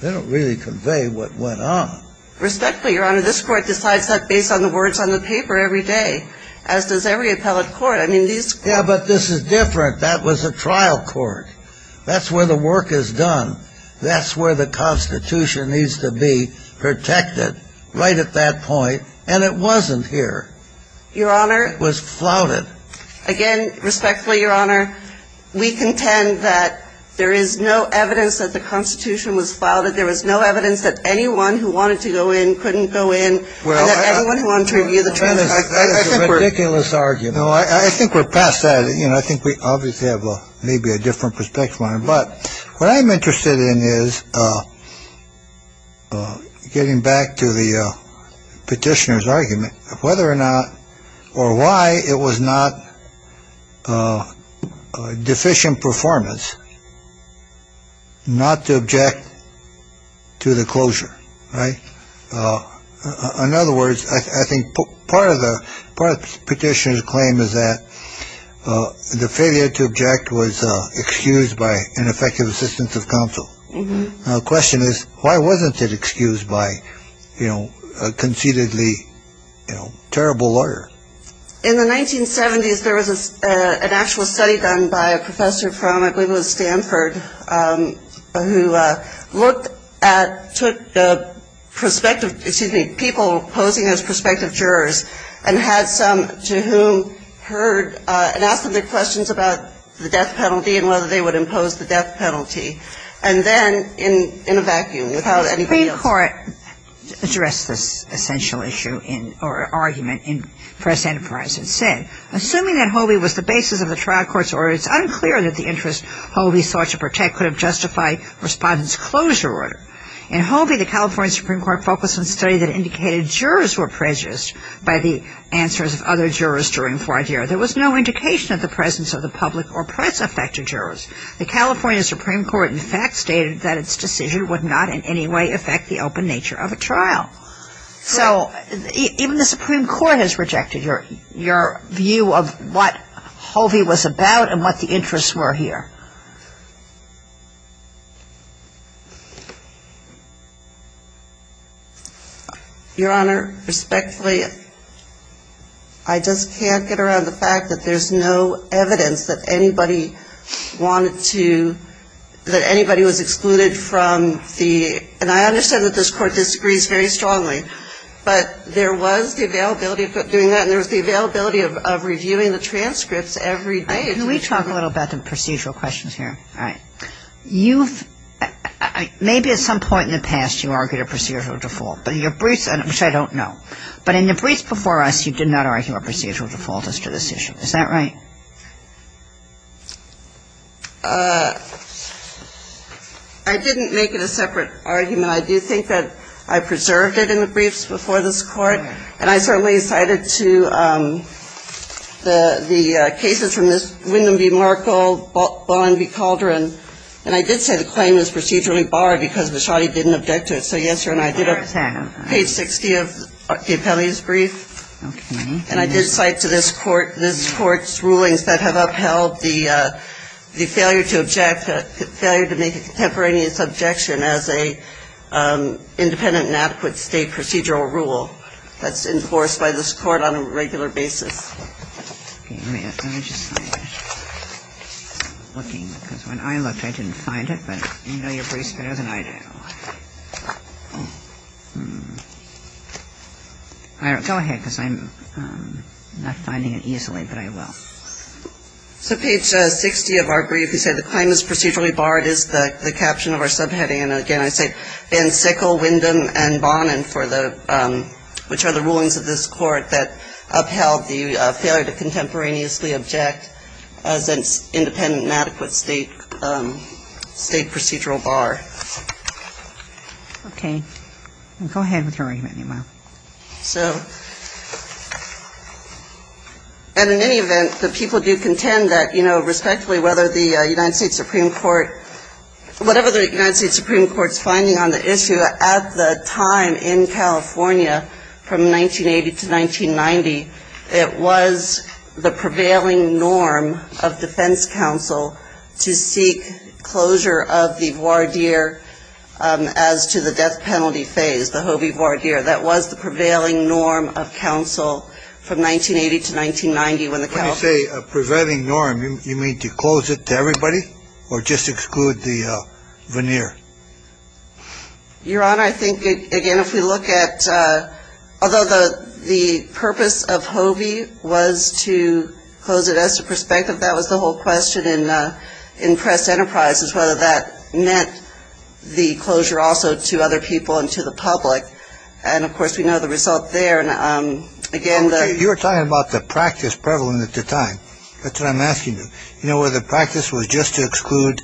they don't really convey what went on. Respectfully, Your Honor, this Court decides that based on the words on the paper every day, as does every appellate court. I mean, these courts – Yeah, but this is different. That was a trial court. That's where the work is done. That's where the Constitution needs to be protected right at that point. And it wasn't here. Your Honor – It was flouted. Again, respectfully, Your Honor, we contend that there is no evidence that the Constitution was flouted. There was no evidence that anyone who wanted to go in couldn't go in, and that anyone who wanted to review the transcripts – That is a ridiculous argument. No, I think we're past that. You know, I think we obviously have maybe a different perspective on it. But what I'm interested in is getting back to the petitioner's argument of whether or not – or why it was not deficient performance not to object to the closure, right? In other words, I think part of the petitioner's claim is that the failure to object was excused by ineffective assistance of counsel. The question is, why wasn't it excused by a conceitedly terrible lawyer? In the 1970s, there was an actual study done by a professor from, I believe it was Stanford, who looked at – took the prospective – excuse me, people posing as prospective jurors and had some to whom heard – and asked them their questions about the death penalty and whether they would impose the death penalty. And then in a vacuum, without anybody else – The Supreme Court addressed this essential issue in – or argument in press enterprise and said, Assuming that Hobie was the basis of the trial court's order, it's unclear that the interest Hobie sought to protect could have justified respondents' closure order. In Hobie, the California Supreme Court focused on a study that indicated jurors were prejudiced by the answers of other jurors during Foie d'Ivoire. There was no indication of the presence of the public or press affected jurors. The California Supreme Court, in fact, stated that its decision would not in any way affect the open nature of a trial. So even the Supreme Court has rejected your view of what Hobie was about and what the interests were here. Your Honor, respectfully, I just can't get around the fact that there's no evidence that anybody wanted to – that anybody was excluded from the – And I understand that this Court disagrees very strongly, but there was the availability of doing that and there was the availability of reviewing the transcripts every day. Can we talk a little about the procedural questions here? All right. You've – maybe at some point in the past you argued a procedural default, but in your briefs – which I don't know. But in your briefs before us, you did not argue a procedural default as to this issue. Is that right? I didn't make it a separate argument. I do think that I preserved it in the briefs before this Court. And I certainly cited to the cases from this, Wyndham v. Markle, Ballen v. Calderon. And I did say the claim was procedurally barred because Bishotti didn't object to it. So, yes, Your Honor, I did. I understand. Page 60 of the appellee's brief. Okay. And I did cite to this Court, this Court's rulings that have upheld the failure to object, the failure to make a contemporaneous objection as an independent and adequate state procedural rule. That's enforced by this Court on a regular basis. Okay. Let me just find it. Because when I looked, I didn't find it. But you know your briefs better than I do. Go ahead, because I'm not finding it easily, but I will. So page 60 of our brief, you say the claim is procedurally barred is the caption of our subheading. And, again, I say Van Sickle, Wyndham, and Ballen, which are the rulings of this Court that upheld the failure to contemporaneously object as an independent and adequate state procedural bar. Okay. Go ahead with your argument, Your Honor. So, and in any event, the people do contend that, you know, respectively whether the United States Supreme Court, whatever the United States Supreme Court's finding on the issue, at the time in California from 1980 to 1990, it was the prevailing norm of defense counsel to seek closure of the voir dire as to the death penalty phase, the hovey voir dire. That was the prevailing norm of counsel from 1980 to 1990 when the counsel When you say prevailing norm, you mean to close it to everybody, or just exclude the veneer? Your Honor, I think, again, if we look at, although the purpose of hovey was to close it as to perspective, that was the whole question in press enterprises, whether that meant the closure also to other people and to the public. And, of course, we know the result there. And, again, the You were talking about the practice prevalent at the time. That's what I'm asking you. You know, whether the practice was just to exclude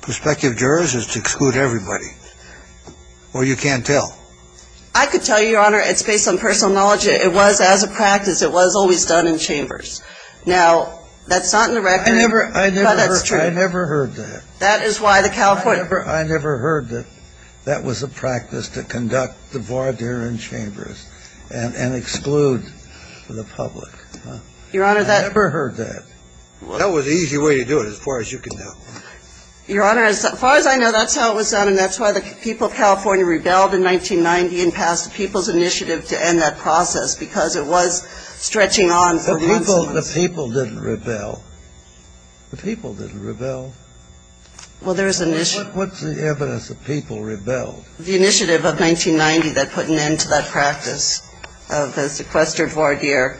prospective jurors or to exclude everybody? Or you can't tell? I could tell you, Your Honor. It's based on personal knowledge. It was, as a practice, it was always done in chambers. Now, that's not in the record, but that's true. I never heard that. That is why the California I never heard that that was a practice to conduct the voir dire in chambers and exclude the public. Your Honor, that I never heard that. That was the easy way to do it as far as you can tell. Your Honor, as far as I know, that's how it was done, and that's why the people of California rebelled in 1990 and passed the People's Initiative to end that process, because it was stretching on for months and months. The people didn't rebel. The people didn't rebel. Well, there's an issue. What's the evidence that people rebelled? The initiative of 1990 that put an end to that practice of the sequestered voir dire.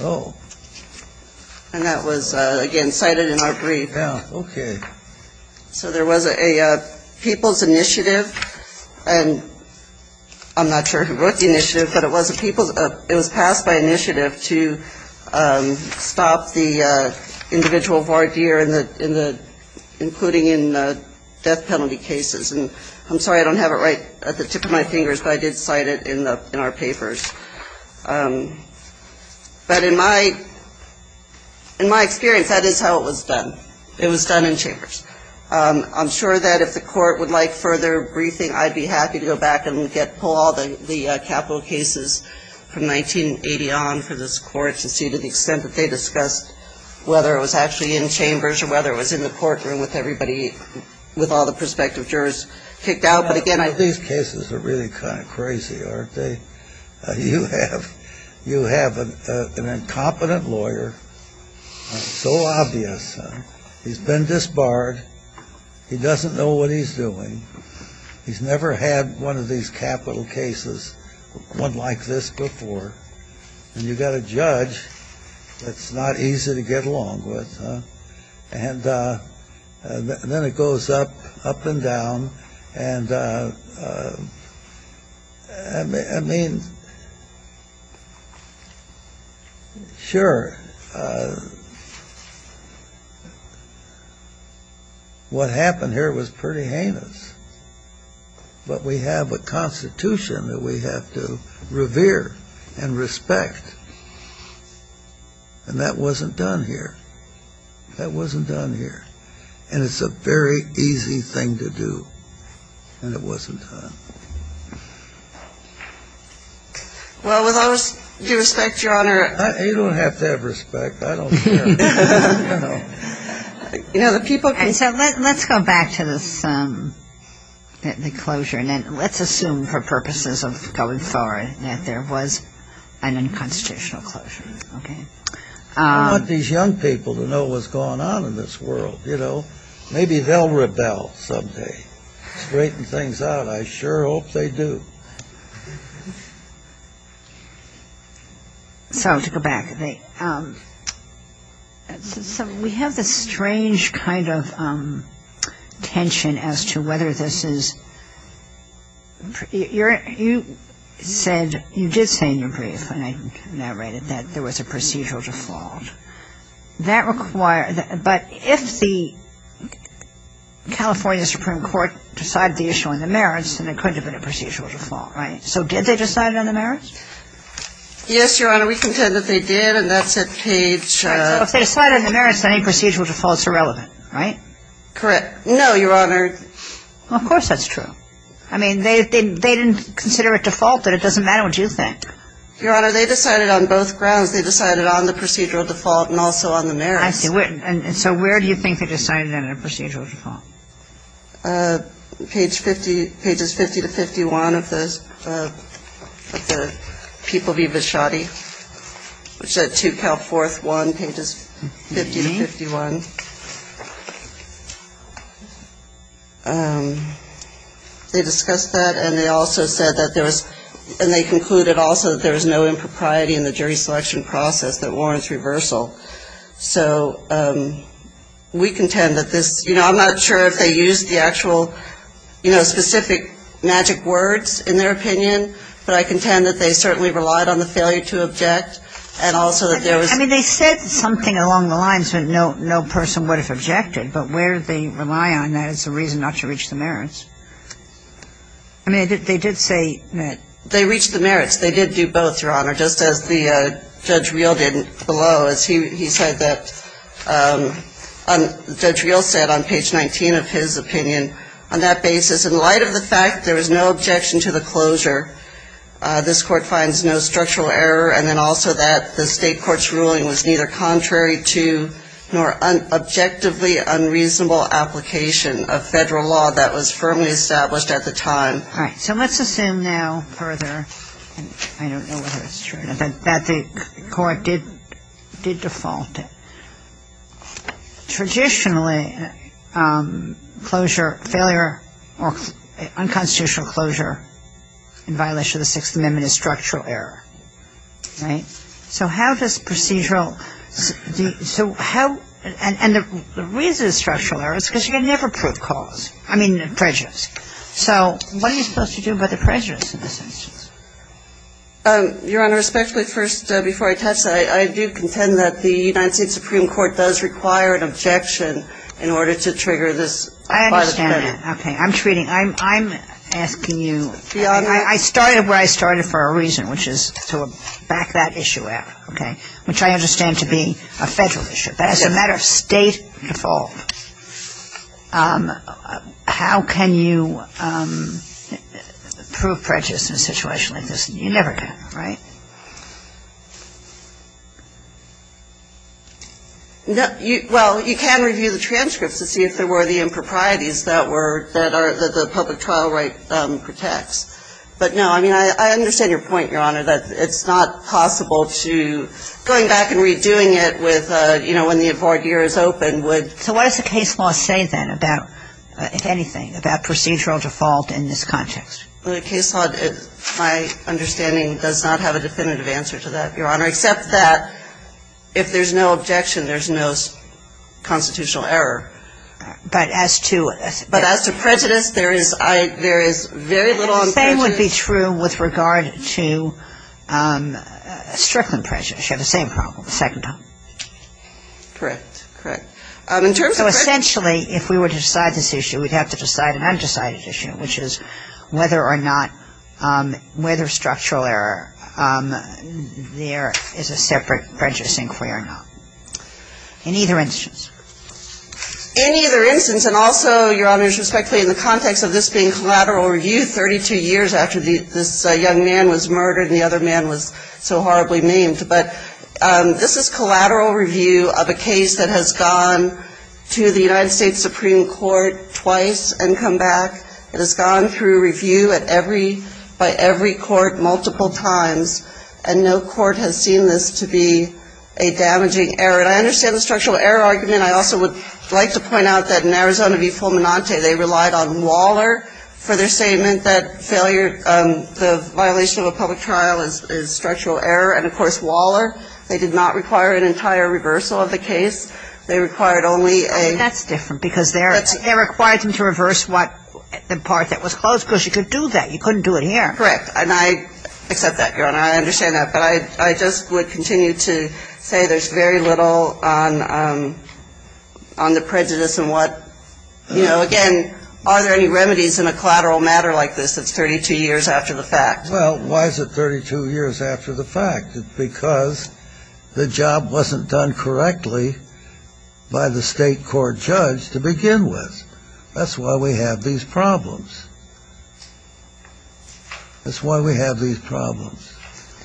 Oh. And that was, again, cited in our brief. Yeah. So there was a People's Initiative, and I'm not sure who wrote the initiative, but it was passed by initiative to stop the individual voir dire, including in death penalty cases. And I'm sorry I don't have it right at the tip of my fingers, but I did cite it in our papers. But in my experience, that is how it was done. It was done in chambers. I'm sure that if the court would like further briefing, I'd be happy to go back and pull all the capital cases from 1980 on for this court to see to the extent that they discussed whether it was actually in chambers or whether it was in the courtroom with all the prospective jurors kicked out. These cases are really kind of crazy, aren't they? You have an incompetent lawyer, so obvious. He's been disbarred. He doesn't know what he's doing. He's never had one of these capital cases, one like this before. And you've got a judge that's not easy to get along with. And then it goes up, up and down. And, I mean, sure, what happened here was pretty heinous. But we have a Constitution that we have to revere and respect. And that wasn't done here. That wasn't done here. And it's a very easy thing to do. And it wasn't done. Well, with all due respect, Your Honor. You don't have to have respect. I don't care. No. You know, the people can say. Let's go back to this, the closure. And let's assume for purposes of going forward that there was an unconstitutional closure. Okay? I want these young people to know what's going on in this world. You know? Maybe they'll rebel someday, straighten things out. I sure hope they do. So to go back. So we have this strange kind of tension as to whether this is you said you did say in your brief, and I narrated that there was a procedural default. But if the California Supreme Court decided the issue on the merits, then there couldn't have been a procedural default. Right? So did they decide it on the merits? Yes, Your Honor. We contend that they did. And that's at page. So if they decided on the merits, then any procedural defaults are relevant. Right? Correct. No, Your Honor. Well, of course that's true. I mean, they didn't consider it defaulted. But it doesn't matter what you think. Your Honor, they decided on both grounds. They decided on the procedural default and also on the merits. I see. And so where do you think they decided on a procedural default? Page 50, pages 50 to 51 of the People v. Bishotti, which is at 2 Cal 4th 1, pages 50 to 51. They discussed that, and they also said that there was – and they concluded also that there was no impropriety in the jury selection process that warrants reversal. So we contend that this – you know, I'm not sure if they used the actual, you know, specific magic words in their opinion, but I contend that they certainly relied on the failure to object and also that there was – I don't know where the person would have objected, but where they rely on that as a reason not to reach the merits. I mean, they did say that – They reached the merits. They did do both, Your Honor, just as Judge Reel did below. He said that – Judge Reel said on page 19 of his opinion, on that basis, in light of the fact there was no objection to the closure, this Court finds no objectively unreasonable application of federal law that was firmly established at the time. All right. So let's assume now further – I don't know whether that's true or not – that the Court did default. Traditionally, closure – failure or unconstitutional closure in violation of the Sixth Amendment is structural error, right? So how does procedural – so how – and the reason it's structural error is because you can never prove cause – I mean, prejudice. So what are you supposed to do about the prejudice in this instance? Your Honor, respectfully, first, before I touch that, I do contend that the United States Supreme Court does require an objection in order to trigger this violation. I understand that. Okay. I'm treating – I'm asking you – I started where I started for a reason, which is to back that issue up, okay, which I understand to be a federal issue. But as a matter of state default, how can you prove prejudice in a situation like this? You never can, right? Well, you can review the transcripts to see if there were the improprieties that were – that the public trial right protects. But no, I mean, I understand your point, Your Honor, that it's not possible to – going back and redoing it with, you know, when the import year is open would – So what does the case law say then about – if anything, about procedural default in this context? Well, the case law, my understanding, does not have a definitive answer to that, Your Honor, except that if there's no objection, there's no constitutional error. But as to – And the same would be true with regard to Strickland prejudice. You have the same problem, the second time. Correct. Correct. In terms of – So essentially, if we were to decide this issue, we'd have to decide an undecided issue, which is whether or not – whether structural error, there is a separate prejudice inquiry or not. In either instance. In either instance, and also, Your Honor, respectfully, in the context of this being collateral review, 32 years after this young man was murdered and the other man was so horribly maimed. But this is collateral review of a case that has gone to the United States Supreme Court twice and come back. It has gone through review at every – by every court multiple times. And no court has seen this to be a damaging error. And I understand the structural error argument. I also would like to point out that in Arizona v. Fulminante, they relied on Waller for their statement that failure – the violation of a public trial is structural error. And, of course, Waller, they did not require an entire reversal of the case. They required only a – Well, that's different because they required them to reverse what – the part that was closed because you couldn't do that. You couldn't do it here. Correct. And I accept that, Your Honor. I understand that. But I just would continue to say there's very little on the prejudice and what – you know, again, are there any remedies in a collateral matter like this that's 32 years after the fact? Well, why is it 32 years after the fact? Because the job wasn't done correctly by the state court judge to begin with. That's why we have these problems. That's why we have these problems.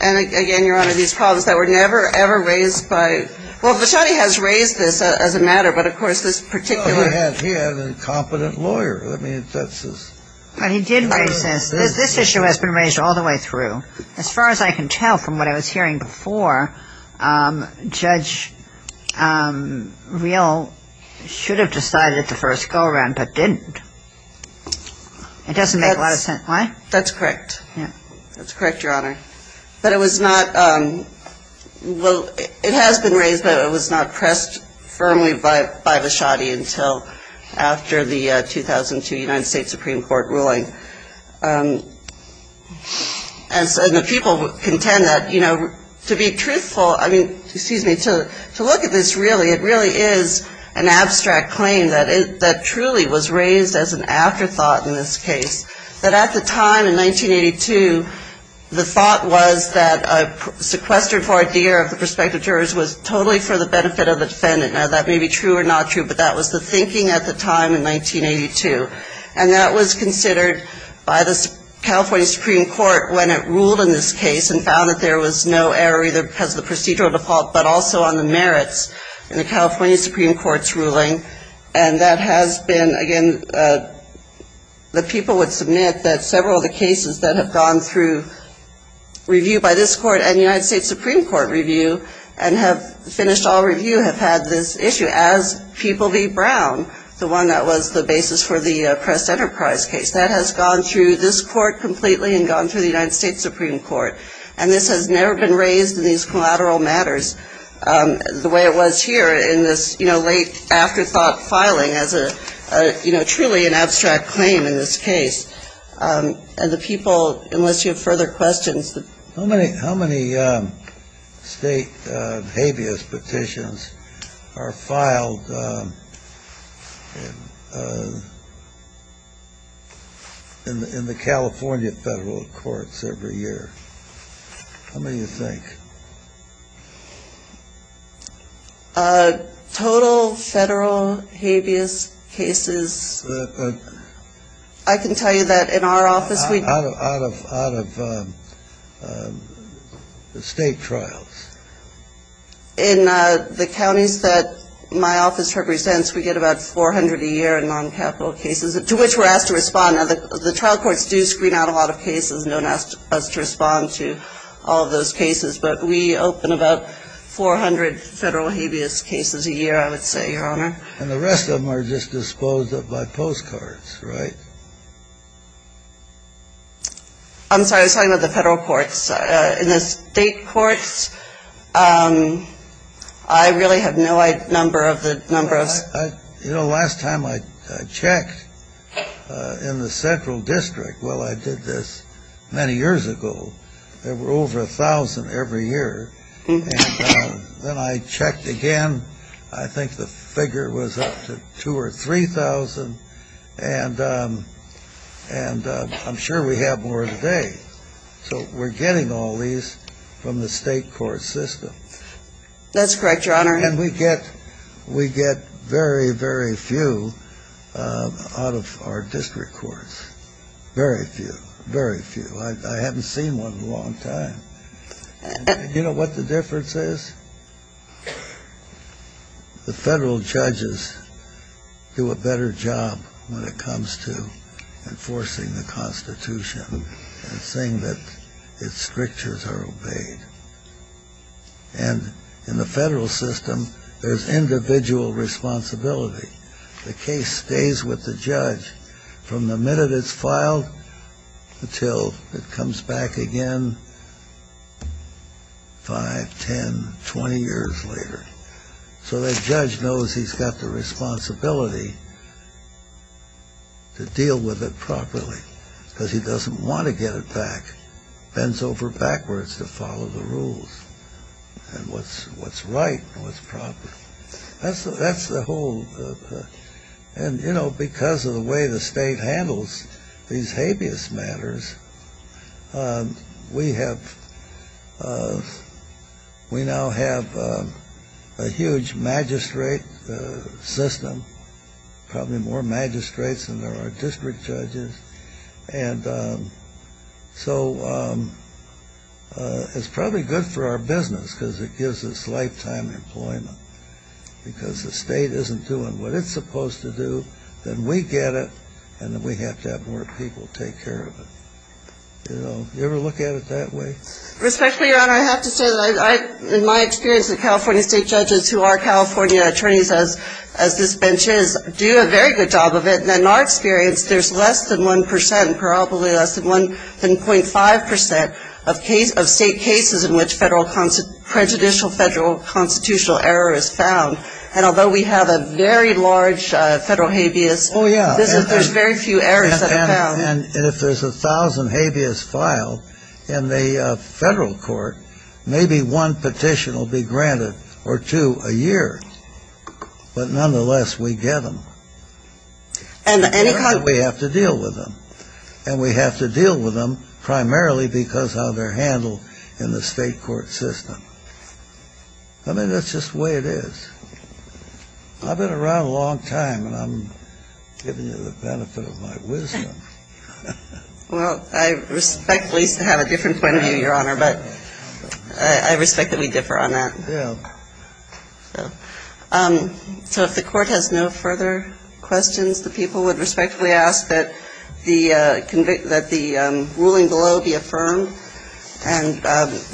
And, again, Your Honor, these problems that were never, ever raised by – well, Vachonni has raised this as a matter, but, of course, this particular – Well, he had a competent lawyer. I mean, that's his – But he did raise this. This issue has been raised all the way through. As far as I can tell from what I was hearing before, Judge Real should have decided the first go-around but didn't. It doesn't make a lot of sense. Why? That's correct. That's correct, Your Honor. But it was not – well, it has been raised, but it was not pressed firmly by Vachonni until after the 2002 United States Supreme Court ruling. And the people contend that, you know, to be truthful – I mean, excuse me, to look at this really, it really is an abstract claim that truly was raised as an afterthought in this case. But at the time, in 1982, the thought was that a sequester for a DER of the prospective jurors was totally for the benefit of the defendant. Now, that may be true or not true, but that was the thinking at the time in 1982. And that was considered by the California Supreme Court when it ruled in this case and found that there was no error either because of the procedural default And that has been, again, the people would submit that several of the cases that have gone through review by this court and United States Supreme Court review and have finished all review have had this issue, as People v. Brown, the one that was the basis for the Press Enterprise case. That has gone through this court completely and gone through the United States Supreme Court. And this has never been raised in these collateral matters the way it was here in this late afterthought filing as truly an abstract claim in this case. And the people, unless you have further questions. How many state habeas petitions are filed in the California federal courts every year? How many do you think? Total federal habeas cases. I can tell you that in our office we Out of state trials. In the counties that my office represents, we get about 400 a year in noncapital cases to which we're asked to respond. Now, the trial courts do screen out a lot of cases and don't ask us to respond to all of those cases. But we open about 400 federal habeas cases a year, I would say, Your Honor. And the rest of them are just disposed of by postcards, right? I'm sorry. I was talking about the federal courts. In the state courts, I really have no number of the number of You know, last time I checked in the central district, well, I did this many years ago. There were over 1,000 every year. And then I checked again. I think the figure was up to 2,000 or 3,000. And I'm sure we have more today. So we're getting all these from the state court system. That's correct, Your Honor. And we get very, very few out of our district courts. Very few. Very few. I haven't seen one in a long time. You know what the difference is? The federal judges do a better job when it comes to enforcing the Constitution and saying that its strictures are obeyed. And in the federal system, there's individual responsibility. The case stays with the judge from the minute it's filed until it comes back again 5, 10, 20 years later. So the judge knows he's got the responsibility to deal with it properly because he doesn't want to get it back. It bends over backwards to follow the rules and what's right and what's proper. That's the whole. And, you know, because of the way the state handles these habeas matters, we now have a huge magistrate system, probably more magistrates than there are district judges. And so it's probably good for our business because it gives us lifetime employment because the state isn't doing what it's supposed to do. Then we get it, and then we have to have more people take care of it. You know, you ever look at it that way? Respectfully, Your Honor, I have to say that in my experience, the California state judges who are California attorneys as this bench is do a very good job of it. And in our experience, there's less than 1%, probably less than 1.5% of state cases in which prejudicial federal constitutional error is found. And although we have a very large federal habeas, there's very few errors that are found. And if there's 1,000 habeas filed in the federal court, maybe one petition will be granted or two a year. But nonetheless, we get them. And we have to deal with them. And we have to deal with them primarily because of how they're handled in the state court system. I mean, that's just the way it is. I've been around a long time, and I'm giving you the benefit of my wisdom. Well, I respectfully have a different point of view, Your Honor, but I respect that we differ on that. So if the Court has no further questions, the people would respectfully ask that the ruling below be affirmed and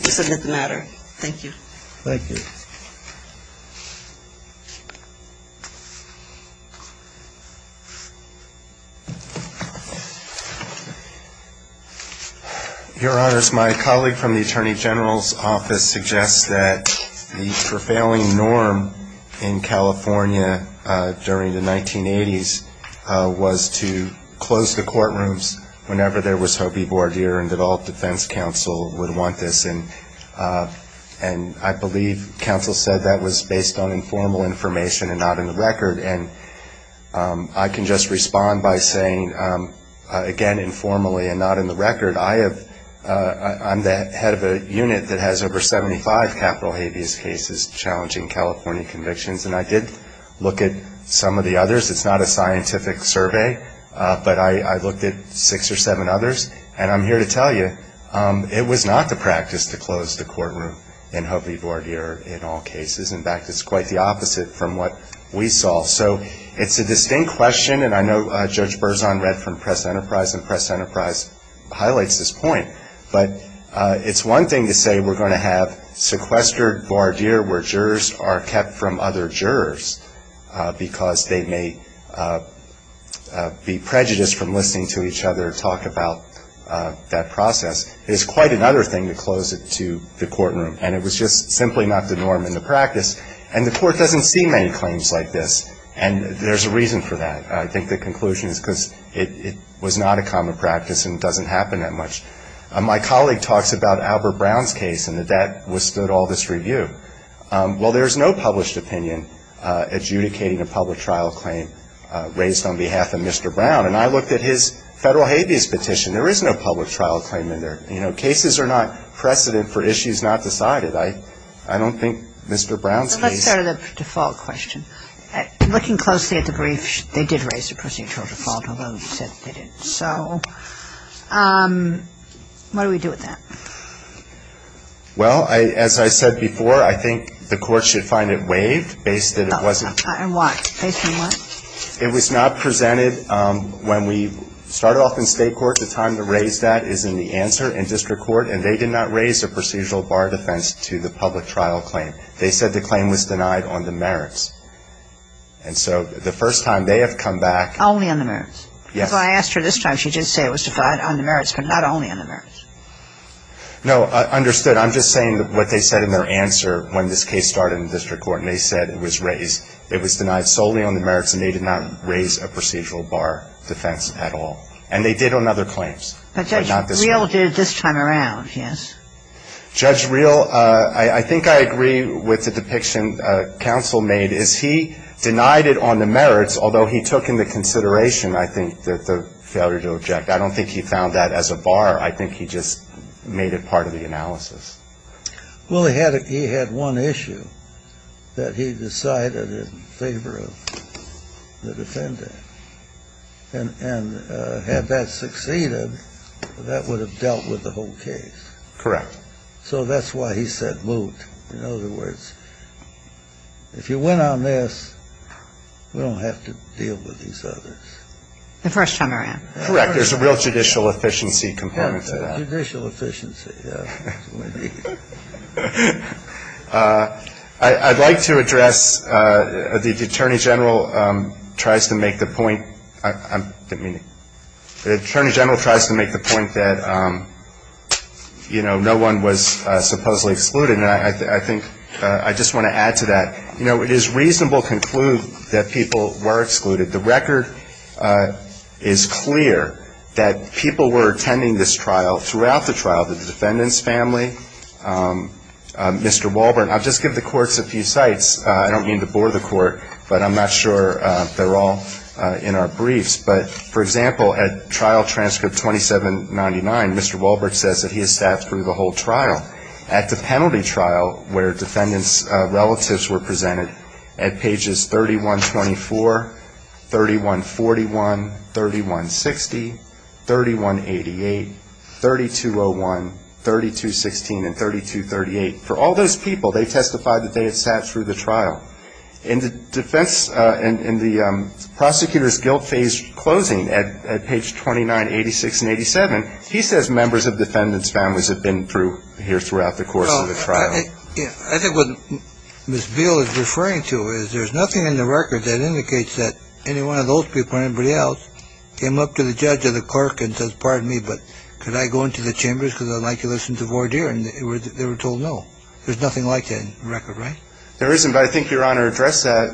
submit the matter. Thank you. Thank you. Thank you. Your Honors, my colleague from the Attorney General's Office suggests that the prevailing norm in California during the 1980s was to close the courtrooms whenever there was Hoby Bourdier and that all defense counsel would want this. And I believe counsel said that was based on informal information and not in the record. And I can just respond by saying, again, informally and not in the record, I'm the head of a unit that has over 75 capital habeas cases challenging California convictions. And I did look at some of the others. It's not a scientific survey, but I looked at six or seven others. And I'm here to tell you it was not the practice to close the courtroom in Hoby Bourdier in all cases. In fact, it's quite the opposite from what we saw. So it's a distinct question, and I know Judge Berzon read from Press Enterprise, and Press Enterprise highlights this point. But it's one thing to say we're going to have sequestered Bourdier where jurors are kept from other jurors because they may be prejudiced from listening to each other talk about that process. It's quite another thing to close it to the courtroom. And it was just simply not the norm in the practice. And the court doesn't see many claims like this, and there's a reason for that. I think the conclusion is because it was not a common practice and it doesn't happen that much. My colleague talks about Albert Brown's case and that that withstood all this review. Well, there's no published opinion adjudicating a public trial claim raised on behalf of Mr. Brown. And I looked at his federal habeas petition. There is no public trial claim in there. You know, cases are not precedent for issues not decided. I don't think Mr. Brown's case — But let's go to the default question. Looking closely at the brief, they did raise the procedural default, although you said they didn't. So what do we do with that? Well, as I said before, I think the court should find it waived based that it wasn't — And why? Based on what? It was not presented when we started off in state court. The time to raise that is in the answer in district court. And they did not raise a procedural bar defense to the public trial claim. They said the claim was denied on the merits. And so the first time they have come back — Only on the merits. Yes. Well, that's why I asked her this time. She did say it was defined on the merits, but not only on the merits. No, understood. I'm just saying what they said in their answer when this case started in district court. And they said it was raised — it was denied solely on the merits, and they did not raise a procedural bar defense at all. And they did on other claims, but not this one. But Judge Reel did this time around, yes. Judge Reel, I think I agree with the depiction counsel made, is he denied it on the merits, although he took into consideration, I think, the failure to object. I don't think he found that as a bar. I think he just made it part of the analysis. Well, he had one issue that he decided in favor of the defendant. And had that succeeded, that would have dealt with the whole case. Correct. So that's why he said moot. In other words, if you win on this, we don't have to deal with these others. The first time around. Correct. There's a real judicial efficiency component to that. Judicial efficiency, yes. Indeed. I'd like to address the Attorney General tries to make the point — I didn't mean to — the Attorney General tries to make the point that, you know, no one was supposedly excluded. And I think — I just want to add to that. You know, it is reasonable to conclude that people were excluded. The record is clear that people were attending this trial throughout the trial, the defendant's family, Mr. Wahlberg. I'll just give the courts a few sites. I don't mean to bore the court, but I'm not sure they're all in our briefs. But, for example, at trial transcript 2799, Mr. Wahlberg says that he has sat through the whole trial. At the penalty trial, where defendant's relatives were presented, at pages 3124, 3141, 3160, 3188, 3201, 3216, and 3238, for all those people, they testified that they had sat through the trial. In the defense — in the prosecutor's guilt phase closing at page 2986 and 87, he says families have been through here throughout the course of the trial. Well, I think what Ms. Beal is referring to is there's nothing in the record that indicates that any one of those people or anybody else came up to the judge or the clerk and says, pardon me, but could I go into the chambers because I'd like to listen to voir dire? And they were told no. There's nothing like that in the record, right? There isn't. But I think Your Honor addressed that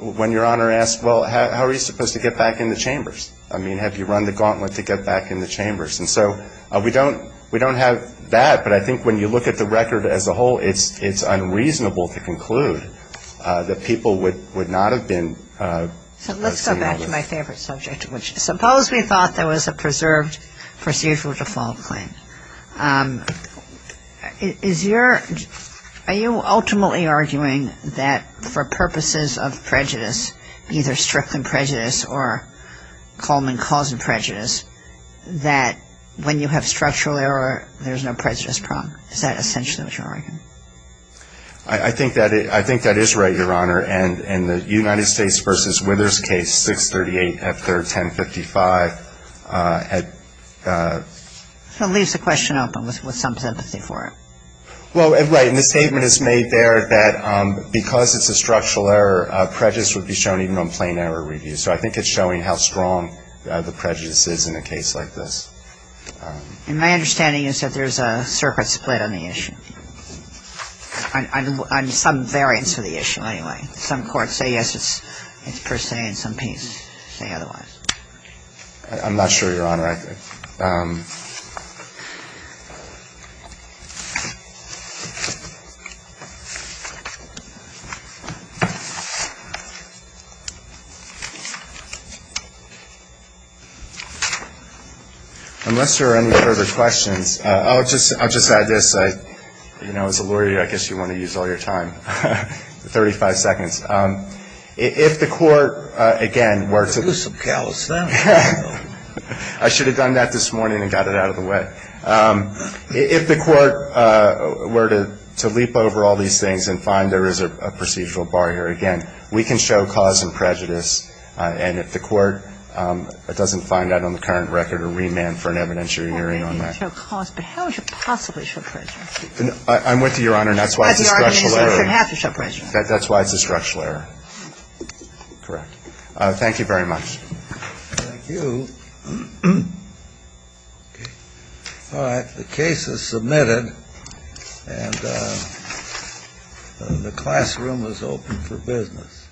when Your Honor asked, well, how are you supposed to get back in the chambers? I mean, have you run the gauntlet to get back in the chambers? And so we don't have that. But I think when you look at the record as a whole, it's unreasonable to conclude that people would not have been seen on this. So let's go back to my favorite subject, which is suppose we thought there was a preserved procedural default claim. Is your — are you ultimately arguing that for purposes of prejudice, either stricter prejudice or Coleman causing prejudice, that when you have structural error, there's no prejudice problem? Is that essentially what you're arguing? I think that is right, Your Honor. And the United States v. Withers case, 638 F. 3rd, 1055 had — It leaves the question open with some sympathy for it. Well, right. And the statement is made there that because it's a structural error, prejudice would be shown even on plain error reviews. So I think it's showing how strong the prejudice is in a case like this. And my understanding is that there's a circuit split on the issue. On some variants of the issue, anyway. Some courts say yes, it's per se, and some people say otherwise. I'm not sure, Your Honor. All right. Unless there are any further questions, I'll just add this. You know, as a lawyer, I guess you want to use all your time. Thirty-five seconds. If the Court, again, were to — I should have done that this morning and got it out of the way. If the Court were to leap over all these things and find there is a procedural bar here, again, we can show cause and prejudice. And if the Court doesn't find that on the current record or remand for an evidentiary hearing on that — Well, you can show cause, but how would you possibly show prejudice? I'm with you, Your Honor. That's why it's a structural error. But the argument is that you have to show prejudice. That's why it's a structural error. Correct. Thank you very much. Thank you. All right. The case is submitted. And the classroom is open for business.